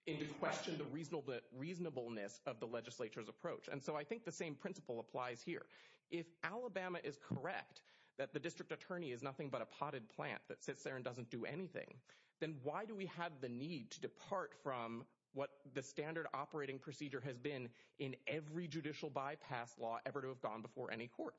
into question the reasonableness of the legislature's approach. And so I think the same principle applies here. If Alabama is correct that the district attorney is nothing but a potted plant that sits there and doesn't do anything, then why do we have the need to depart from what the standard operating procedure has been in every judicial bypass law ever to have gone before any court?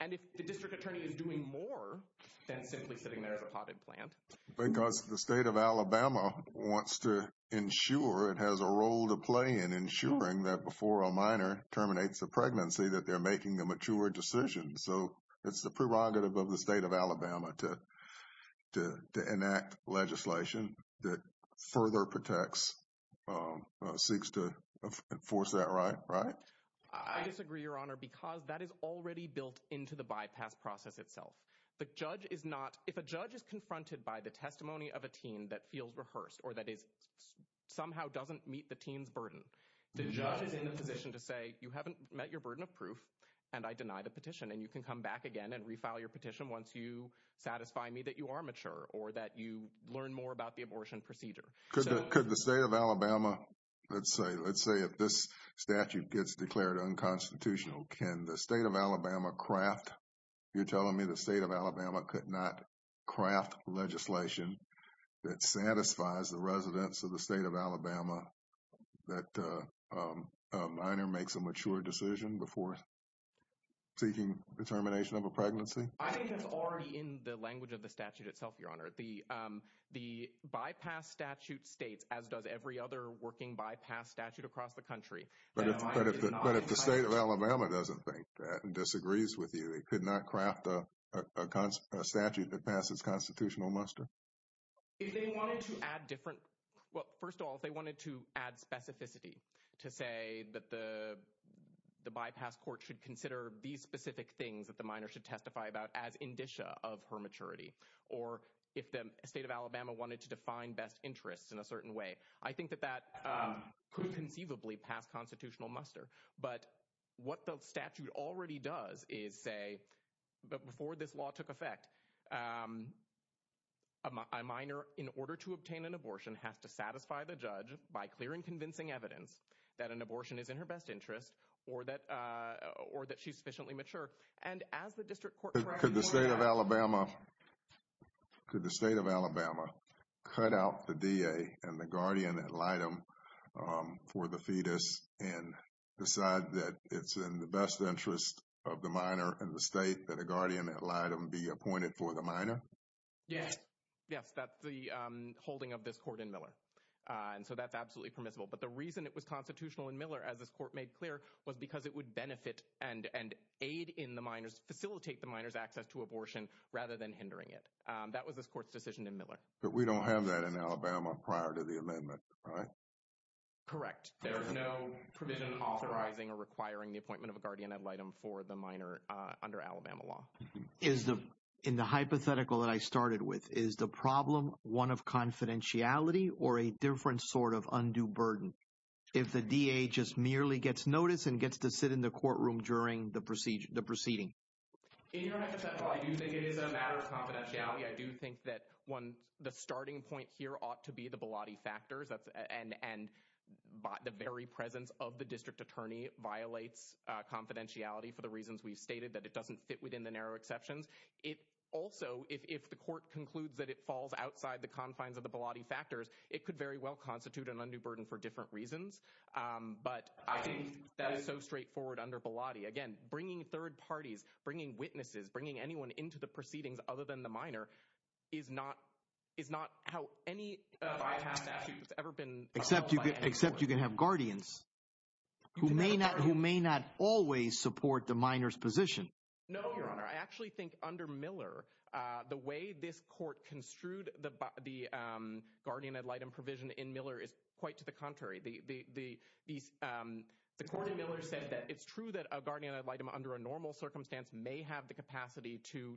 And if the district attorney is doing more than simply sitting there as a potted plant. Because the state of Alabama wants to ensure it has a role to play in ensuring that before a minor terminates a pregnancy that they're making a mature decision. So it's the prerogative of the state of Alabama to enact legislation that further protects, seeks to enforce that right, right? I disagree, Your Honor, because that is already built into the bypass process itself. If a judge is confronted by the testimony of a teen that feels rehearsed or that it somehow doesn't meet the teen's burden, the judge is in a position to say, you haven't met your burden of proof, and I deny the petition. And you can come back again and refile your petition once you satisfy me that you are mature or that you learn more about the abortion procedure. Could the state of Alabama, let's say if this statute gets declared unconstitutional, can the state of Alabama craft, you're telling me the state of Alabama could not craft legislation that satisfies the residents of the state of Alabama that a minor makes a mature decision before seeking the termination of a pregnancy? I think that's already in the language of the statute itself, Your Honor. The bypass statute states, as does every other working bypass statute across the country. But if the state of Alabama doesn't think that and disagrees with you, it could not craft a statute that passes constitutional muster? They wanted to add different, well, first of all, they wanted to add specificity to say that the bypass court should consider these specific things that the maturity or if the state of Alabama wanted to define best interests in a certain way. I think that that could conceivably pass constitutional muster. But what the statute already does is say, but before this law took effect, a minor in order to obtain an abortion has to satisfy the judge by clearing convincing evidence that an abortion is in her best interest or that she's sufficiently mature. Could the state of Alabama cut out the DA and the guardian ad litem for the fetus and decide that it's in the best interest of the minor and the state and the guardian ad litem be appointed for the minor? Yes. That's the holding of this court in Miller. So that's absolutely permissible. But the reason it was constitutional in Miller, as this court made clear, was because it would benefit and aid in the minor's, facilitate the minor's access to abortion rather than hindering it. That was this court's decision in Miller. But we don't have that in Alabama prior to the amendment, right? Correct. There's no provision authorizing or requiring the appointment of a guardian ad litem for the minor under Alabama law. In the hypothetical that I started with, is the problem one of confidentiality or a different sort of undue burden? Is the DA just merely gets notice and gets to sit in the courtroom during the proceeding? In your next example, I do think it is a matter of confidentiality. I do think that the starting point here ought to be the velati factors. And the very presence of the district attorney violates confidentiality for the reasons we stated, that it doesn't fit within the narrow exceptions. Also, if the court concludes that it falls outside the confines of the velati factors, it could very well constitute an undue burden for different reasons. But that is so straightforward under velati. Again, bringing third parties, bringing witnesses, bringing anyone into the proceedings other than the minor is not how any of our cases have ever been contemplated. Except you can have guardians who may not always support the minor's position. No, Your Honor. I actually think under Miller, the way this court construed the guardian ad litem provision in Miller is quite to the contrary. The court in Miller said that it's true that a guardian ad litem under a normal circumstance may have the capacity to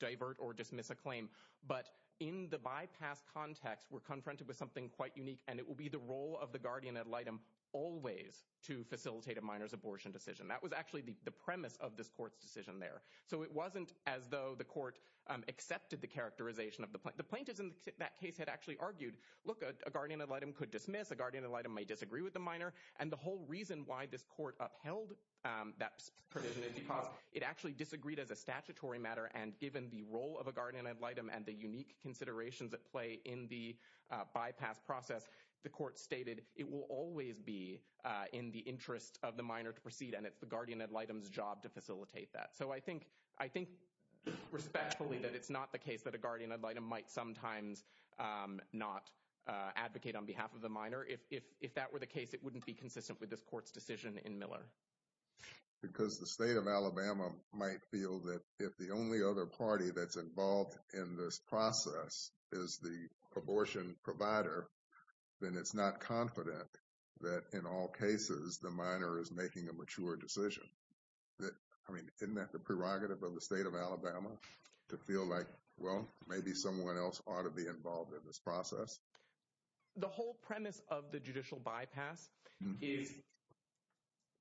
divert or dismiss a claim. But in the bypass context, we're confronted with something quite unique, and it will be the role of the guardian ad litem always to facilitate a minor's abortion decision. That was actually the premise of this court's decision there. So it wasn't as though the court accepted the characterization of the plaintiff. The plaintiff in that case had actually argued, look, a guardian ad litem could dismiss, a guardian ad litem may disagree with the minor. And the whole reason why this court upheld that provision is because it actually disagreed as a statutory matter, and given the role of a guardian ad litem and the unique considerations at play in the bypass process, the court stated it will always be in the interest of the minor to proceed, and it's the guardian ad litem's job to facilitate that. So I think respectfully that it's not the case that a guardian ad litem might sometimes not advocate on behalf of the minor. If that were the case, it wouldn't be consistent with this court's decision in Miller. Because the state of Alabama might feel that if the only other party that's the abortion provider, then it's not confident that in all cases the minor is making a mature decision. I mean, isn't that the prerogative of the state of Alabama to feel like, well, maybe someone else ought to be involved in this process? The whole premise of the judicial bypass is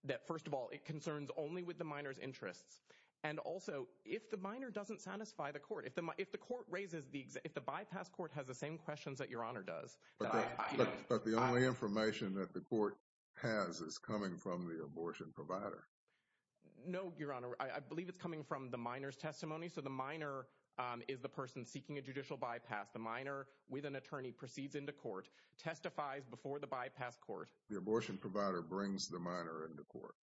that, first of all, it concerns only with the minor's interests, and also if the minor doesn't satisfy the court, if the bypass court has the same questions that Your Honor does. But the only information that the court has is coming from the abortion provider. No, Your Honor. I believe it's coming from the minor's testimony. So the minor is the person seeking a judicial bypass. The minor, with an attorney, proceeds into court, testifies before the bypass court. The abortion provider brings the minor into court.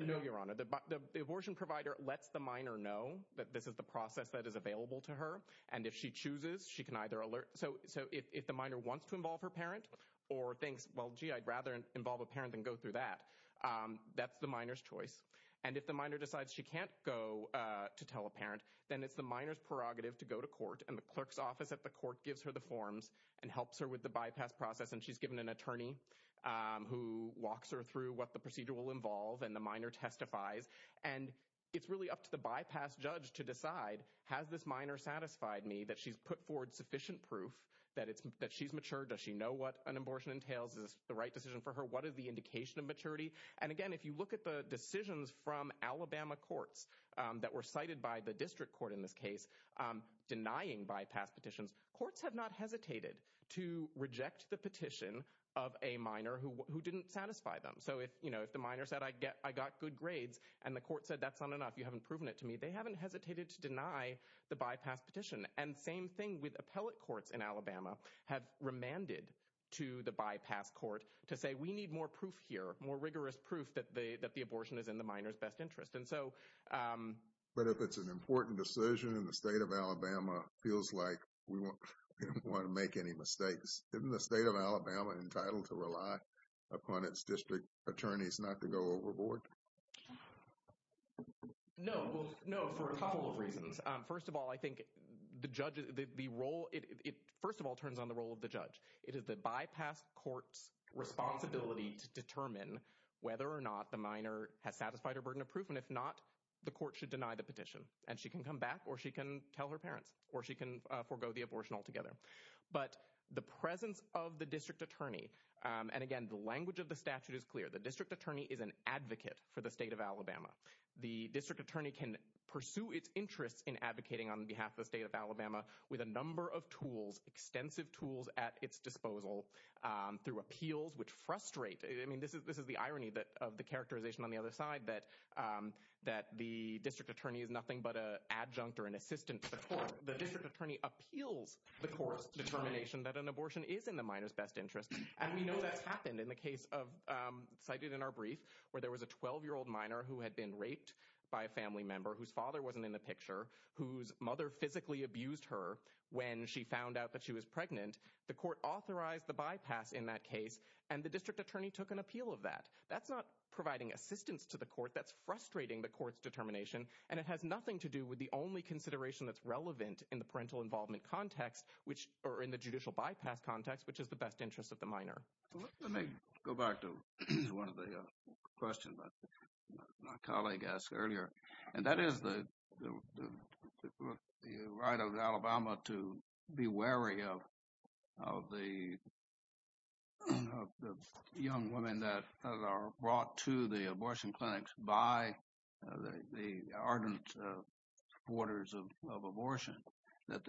No, Your Honor. The abortion provider lets the minor know that this is the process that is available to her, and if she chooses, she can either alert. So if the minor wants to involve her parent or thinks, well, gee, I'd rather involve a parent than go through that, that's the minor's choice. And if the minor decides she can't go to tell a parent, then it's the minor's prerogative to go to court, and the clerk's office at the court gives her the forms and helps her with the bypass process. And she's given an attorney who walks her through what the procedure will entail. The minor testifies, and it's really up to the bypass judge to decide, has this minor satisfied me that she's put forward sufficient proof that she's mature? Does she know what an abortion entails? Is this the right decision for her? What is the indication of maturity? And, again, if you look at the decisions from Alabama courts that were cited by the district court in this case denying bypass petitions, courts have not hesitated to reject the petition of a minor who didn't satisfy them. So if the minor said, I got good grades, and the court said, that's not enough, you haven't proven it to me, they haven't hesitated to deny the bypass petition. And same thing with appellate courts in Alabama have remanded to the bypass court to say, we need more proof here, more rigorous proof that the abortion is in the minor's best interest. But if it's an important decision and the state of Alabama feels like we don't want to make any mistakes, isn't the state of Alabama entitled to rely upon its district attorneys not to go overboard? No, for a couple of reasons. First of all, I think the role, it first of all turns on the role of the judge. It is the bypass court's responsibility to determine whether or not the minor has satisfied her burden of proof, and if not, the court should deny the petition. And she can come back, or she can tell her parents, or she can forego the abortion altogether. But the presence of the district attorney, and again, the language of the statute is clear, the district attorney is an advocate for the state of Alabama. The district attorney can pursue its interest in advocating on behalf of the state of Alabama with a number of tools, extensive tools at its disposal, through appeals, which frustrate, I mean, this is the irony of the characterization on the other side that the district attorney is nothing but an adjunct or an assistant to the court, the district attorney appeals the court's determination that an abortion is in the minor's best interest. And we know that happened in the case of, cited in our brief, where there was a 12-year-old minor who had been raped by a family member whose father wasn't in the picture, whose mother physically abused her when she found out that she was pregnant. The court authorized the bypass in that case, and the district attorney took an appeal of that. That's not providing assistance to the court, that's frustrating the court's determination, and it has nothing to do with the only consideration that's relevant in the parental involvement context, or in the judicial bypass context, which is the best interest of the minor. Let me go back to one of the questions that my colleague asked earlier, and that is the right of Alabama to be wary of the young women that are brought to the ardent supporters of abortion, that,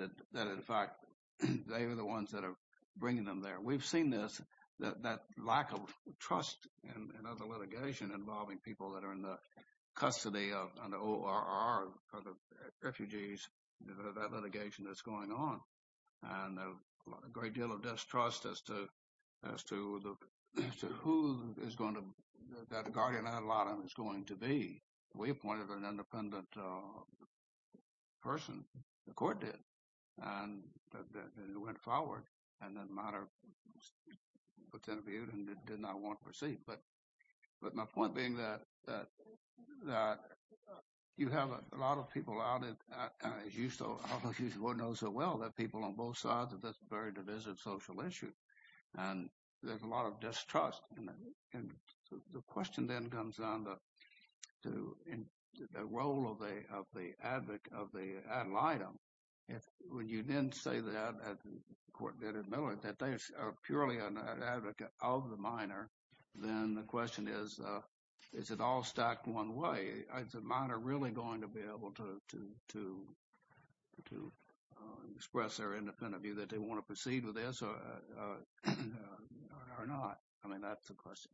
in fact, they are the ones that are bringing them there. We've seen this, that lack of trust in other litigation involving people that are in the custody of ORR for the refugees, that litigation that's going on, and a great deal of distrust as to who that guardian ad litem is going to be. We appointed an independent person, the court did, and it went forward, and the minor was interviewed and did not want to proceed. But my point being that you have a lot of people out, as you so often know so well, that people on both sides of this very divisive social issue, and there's a lot of distrust and the question then comes down to the role of the ad litem. When you then say that, the court did admit that they are purely an advocate of the minor, then the question is, is it all stacked one way? Is the minor really going to be able to express their independent view that they want to proceed with this or not? I mean, that's the question.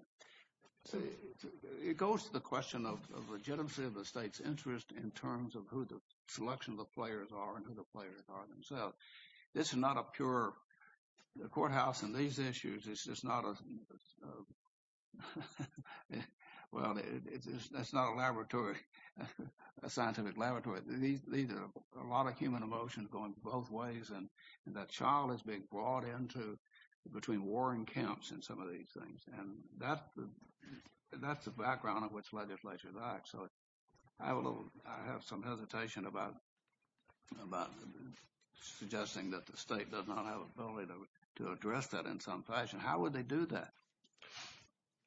It goes to the question of the legitimacy of the state's interest in terms of who the selection of the players are and who the players are themselves. This is not a pure courthouse in these issues. It's just not a laboratory, a scientific laboratory. There's a lot of human emotion going both ways, and that child is being brought in between war and camps in some of these things, and that's the background of which legislatures act. So I have some hesitation about suggesting that the state does not have the ability to address that in some fashion. How would they do that?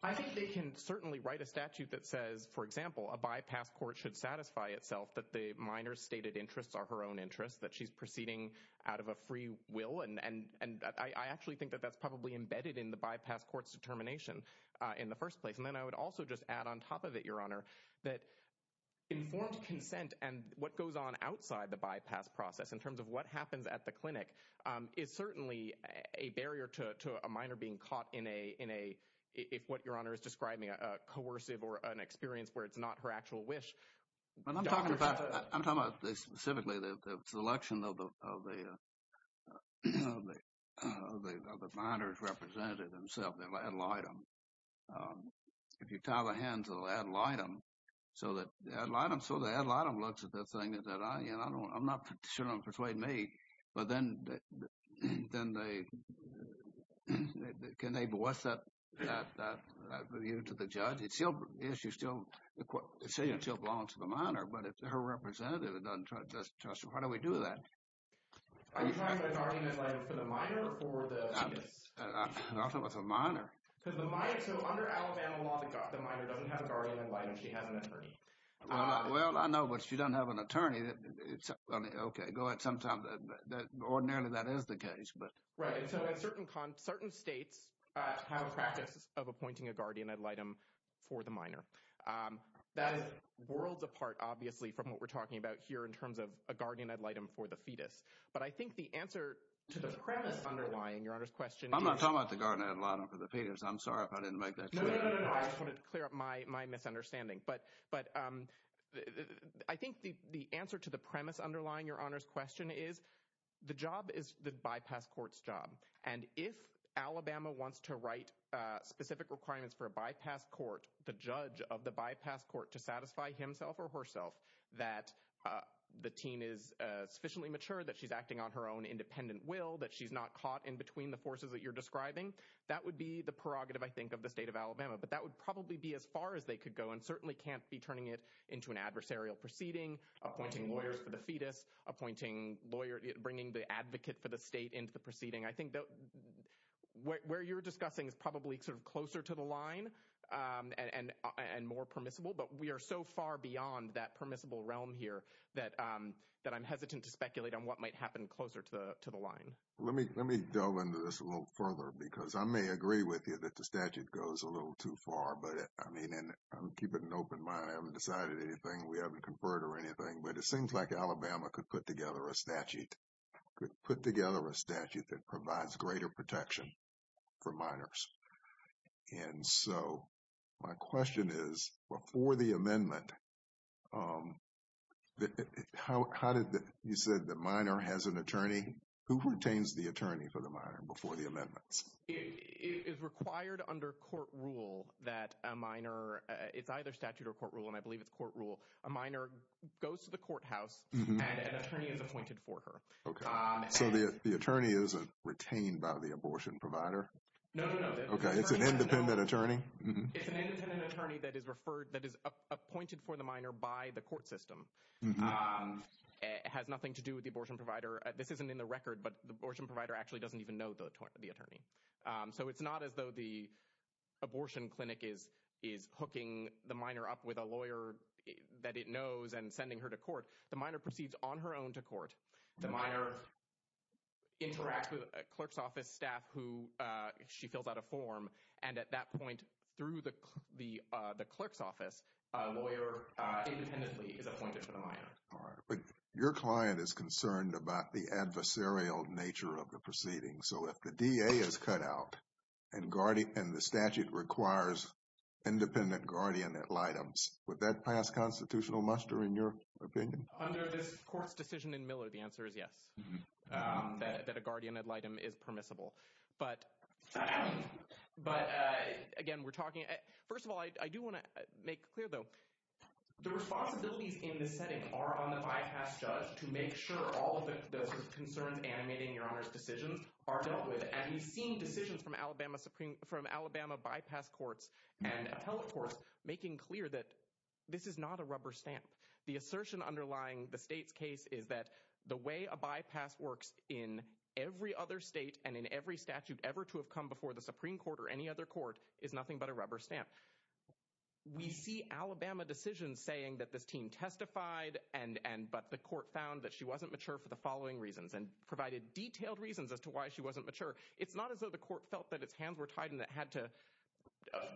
I think they can certainly write a statute that says, for example, a bypass court should satisfy itself that the minor's stated interests are her own interests, that she's proceeding out of a free will, and I actually think that that's probably embedded in the bypass court's determination in the first place. And then I would also just add on top of it, Your Honor, that informed consent and what goes on outside the bypass process in terms of what happens at the clinic is certainly a barrier to a minor being caught in a, if what Your Honor is describing, a coercive or an experience where it's not her actual wish. I'm talking about specifically the selection of the minor's representative themselves, the ad litem. If you tie the hand to the ad litem, so the ad litem looks at the thing and says, I'm not sure they'll persuade me. But then can they voice that view to the judge? She still belongs to the minor, but if her representative doesn't trust her, how do we do that? Are you talking about a guardian ad litem for the minor? I'm talking about the minor. So under Alabama law, the minor doesn't have a guardian ad litem. She has an attorney. Well, I know, but she doesn't have an attorney. Okay, go ahead. Ordinarily, that is the case. Right, so at certain states have a practice of appointing a guardian ad litem for the minor. That is worlds apart, obviously, from what we're talking about here in terms of a guardian ad litem for the fetus. But I think the answer to the premise underlying Your Honor's question is... I'm not talking about the guardian ad litem for the fetus. I'm sorry if I didn't make that clear. No, no, no. I just want to clear up my misunderstanding. But I think the answer to the premise underlying Your Honor's question is the job is the bypass court's job. And if Alabama wants to write specific requirements for a bypass court, the judge of the bypass court to satisfy himself or herself that the teen is sufficiently mature, that she's acting on her own independent will, that she's not caught in between the forces that you're describing, that would be the prerogative, I think, of the state of Alabama. But that would probably be as far as they could go and certainly can't be turning it into an adversarial proceeding, appointing lawyers for the fetus, bringing the advocate for the state into the proceeding. I think where you're discussing is probably closer to the line and more permissible. But we are so far beyond that permissible realm here that I'm hesitant to speculate on what might happen closer to the line. Let me delve into this a little further because I may agree with you that the statute goes a little too far. But I'm keeping an open mind. I haven't decided anything. We haven't conferred or anything. But it seems like Alabama could put together a statute that provides greater protection for minors. And so my question is, before the amendment, how did the – you said the minor has an attorney. Who retains the attorney for the minor before the amendment? It is required under court rule that a minor – it's either statute or court rule, and I believe it's court rule. A minor goes to the courthouse and an attorney is appointed for her. Okay. So the attorney isn't retained by the abortion provider? No, no, no. Okay. It's an independent attorney? It's an independent attorney that is referred – that is appointed for the minor by the court system. It has nothing to do with the abortion provider. This isn't in the record, but the abortion provider actually doesn't even know the attorney. So it's not as though the abortion clinic is hooking the minor up with a lawyer that it knows and sending her to court. The minor proceeds on her own to court. The minor interacts with a clerk's office staff who – she fills out a form, and at that point, through the clerk's office, a lawyer independently is appointed for the minor. All right. But your client is concerned about the adversarial nature of the proceeding. So if the DA is cut out and the statute requires independent guardian ad litems, would that pass constitutional muster in your opinion? Under the court's decision in Miller, the answer is yes, that a guardian ad litem is permissible. But, again, we're talking – first of all, I do want to make clear, though, the responsibilities in this setting are on the bypass judge to make sure all of the concerns animated in this case are dealt with. And we've seen decisions from Alabama bypass courts and health courts making clear that this is not a rubber stamp. The assertion underlying the state's case is that the way a bypass works in every other state and in every statute ever to have come before the Supreme Court or any other court is nothing but a rubber stamp. We see Alabama decisions saying that this teen testified, but the court found that she wasn't mature. It's not as though the court felt that its hands were tied and it had to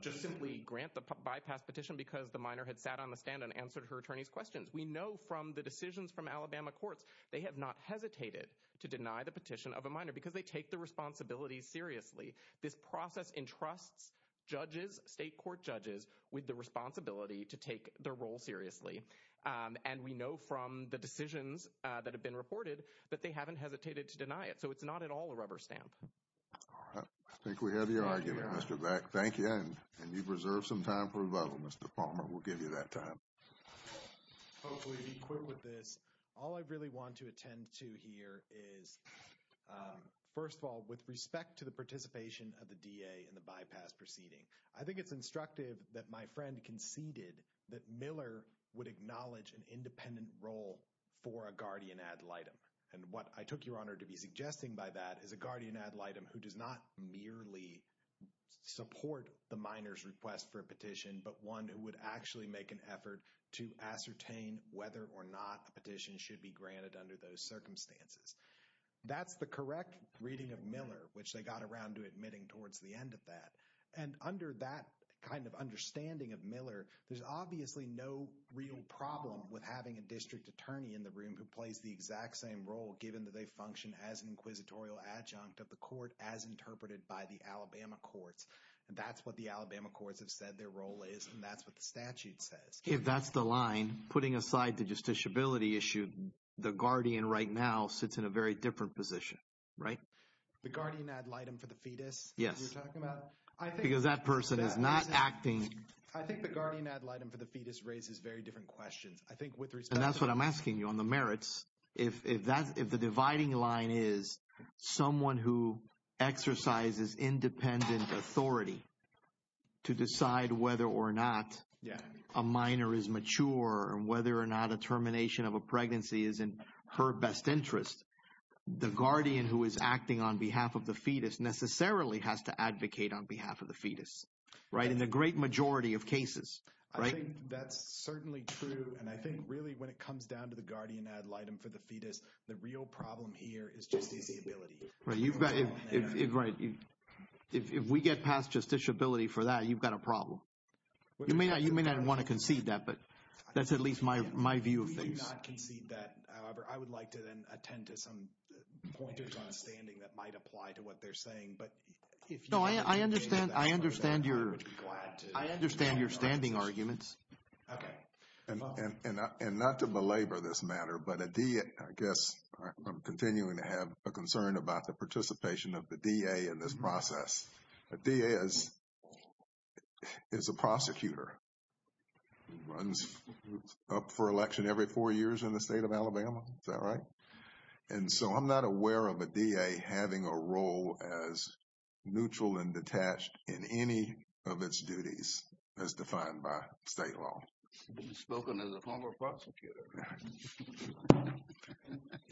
just simply grant the bypass petition because the minor had sat on the stand and answered her attorney's questions. We know from the decisions from Alabama courts, they have not hesitated to deny the petition of a minor because they take the responsibility seriously. This process entrusts judges, state court judges, with the responsibility to take their role seriously. And we know from the decisions that have been reported that they haven't hesitated to deny it. So it's not at all a rubber stamp. All right. I think we have your argument, Mr. Beck. Thank you. And you've reserved some time for a vote. Mr. Palmer, we'll give you that time. All I really want to attend to here is, first of all, with respect to the participation of the DA in the bypass proceeding, I think it's instructive that my friend conceded that Miller would acknowledge an independent role for a guardian ad litem. And what I took your honor to be suggesting by that is a guardian ad litem who does not merely support the minor's request for a petition, but one who would actually make an effort to ascertain whether or not a petition should be granted under those circumstances. That's the correct reading of Miller, which they got around to admitting towards the end of that. And under that kind of understanding of Miller, there's obviously no real problem with having a district attorney in the room who plays the exact same role, given that they function as an inquisitorial adjunct of the court as interpreted by the Alabama courts. And that's what the Alabama courts have said their role is, and that's what the statute says. If that's the line, putting aside the justiciability issue, the guardian right now sits in a very different position, right? The guardian ad litem for the fetus? Yes. You're talking about... Because that person is not acting... I think the guardian ad litem for the fetus raises very different questions. And that's what I'm asking you on the merits. If the dividing line is someone who exercises independent authority to decide whether or not a minor is mature and whether or not a termination of a pregnancy is in her best interest, the guardian who is acting on behalf of the fetus necessarily has to advocate on behalf of the fetus, right? In the great majority of cases, right? I think that's certainly true. And I think really when it comes down to the guardian ad litem for the fetus, the real problem here is justiciability. Right. If we get past justiciability for that, you've got a problem. You may not want to concede that, but that's at least my view of things. We do not concede that. However, I would like to then attend to some pointers on standing that might apply to what they're saying. No, I understand your standing arguments. Okay. And not to belabor this matter, but I guess I'm continuing to have a concern about the participation of the DA in this process. A DA is a prosecutor, runs up for election every four years in the state of Alabama. Is that right? And so I'm not aware of a DA having a role as neutral and detached in any of its duties as defined by state law. He's spoken as a former prosecutor.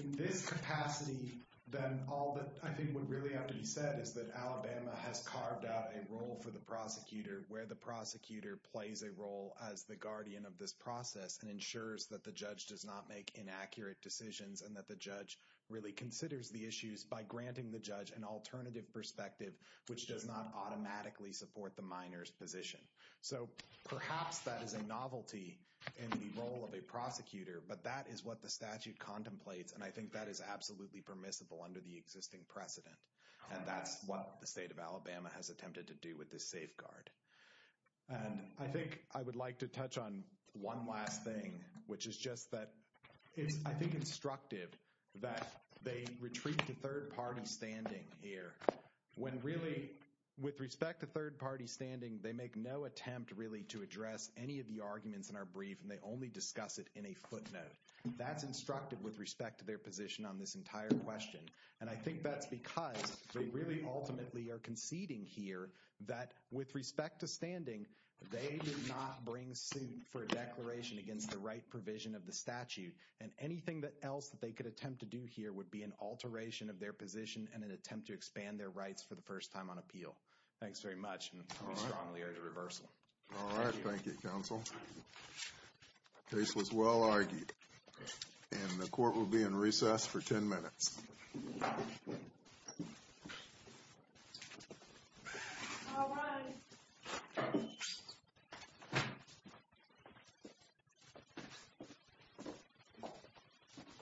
In this capacity, then all that I think would really have to be said is that Alabama has carved out a role for the prosecutor where the prosecutor plays a role as the guardian of this process and ensures that the judge does not make inaccurate decisions and that the judge really considers the issues by granting the judge an alternative perspective, which does not automatically support the minor's position. So perhaps that is a novelty in the role of a prosecutor, but that is what the statute contemplates, and I think that is absolutely permissible under the existing precedent, and that's what the state of Alabama has attempted to do with this safeguard. And I think I would like to touch on one last thing, which is just that I think it's instructive that they retreat to third-party standing here when really, with respect to third-party standing, they make no attempt really to address any of the arguments in our brief, and they only discuss it in a footnote. That's instructive with respect to their position on this entire question, and I think that's because they really ultimately are conceding here that with respect to standing, they did not bring suit for a declaration against the right provision of the statute, and anything else that they could attempt to do here would be an alteration of their position and an attempt to expand their rights for the first time on appeal. Thanks very much, and we strongly urge a reversal. All right. Thank you, counsel. This was well-argued, and the court will be in recess for 10 minutes. All rise. Thank you. Thank you. Thank you. Thank you. Thank you. Thank you. Thank you. Thank you. Thank you. Thank you. Thank you.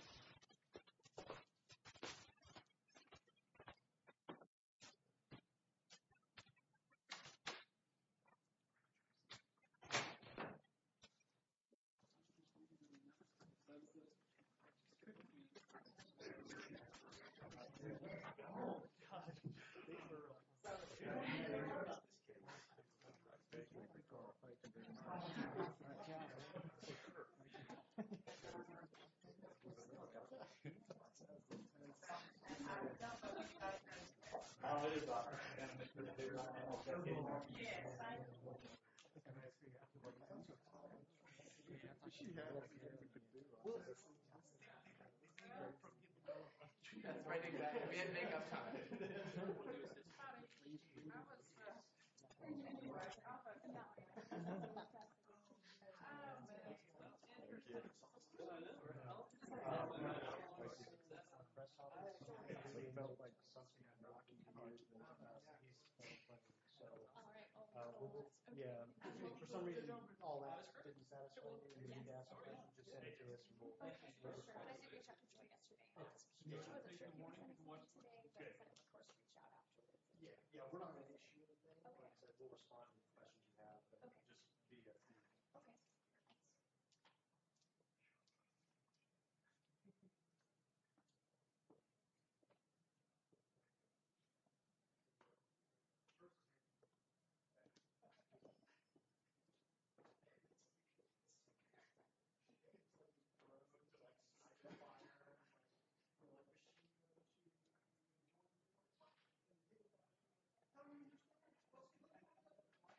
Hi, everyone. Hi, everyone. Hi, everyone. Hi, everyone.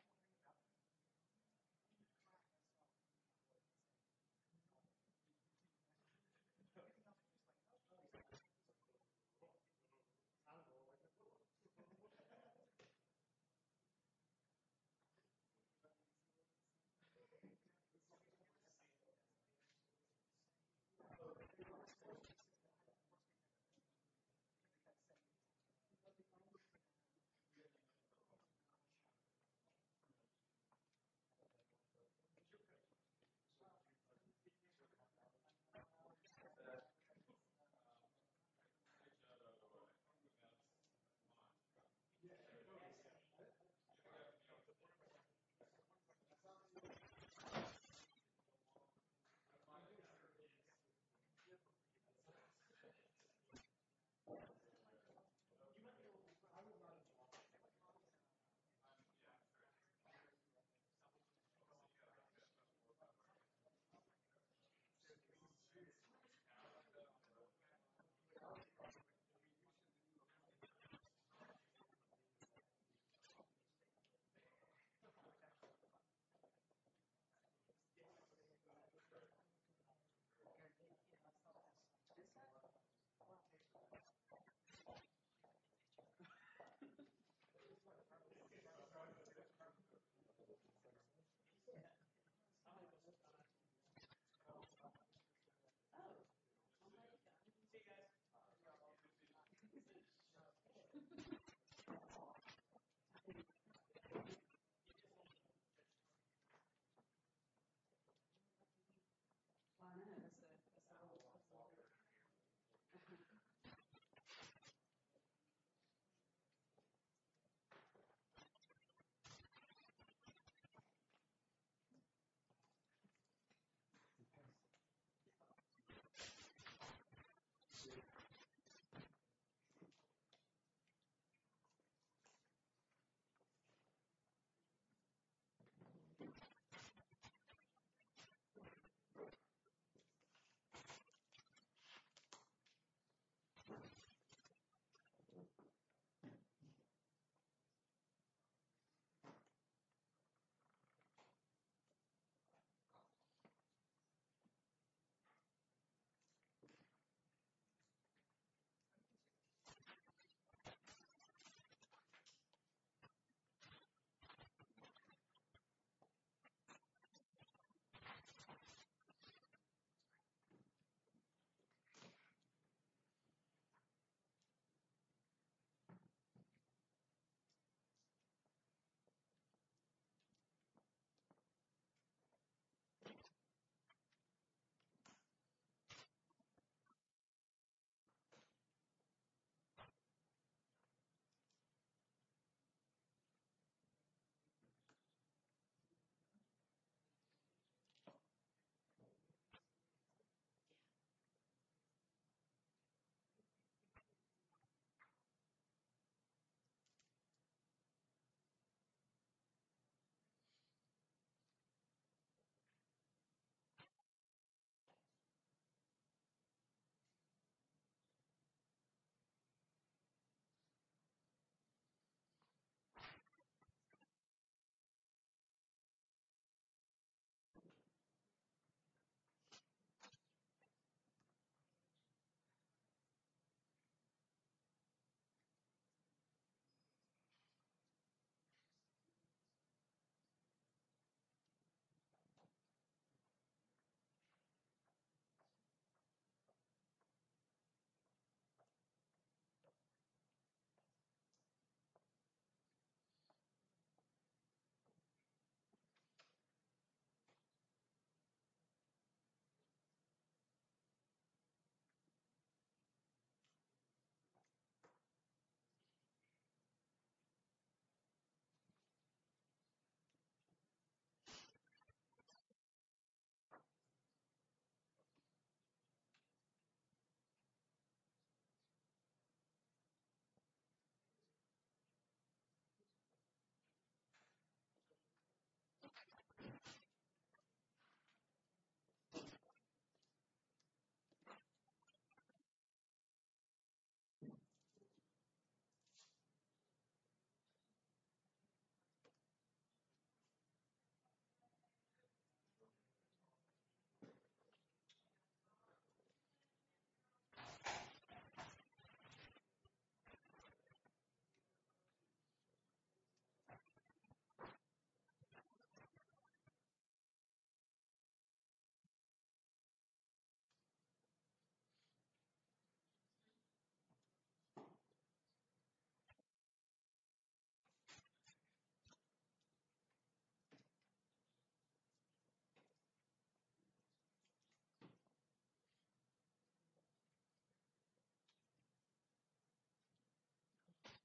Hi, everyone. Hi, everyone. Hi, everyone. Hi, everyone. Hi, everyone.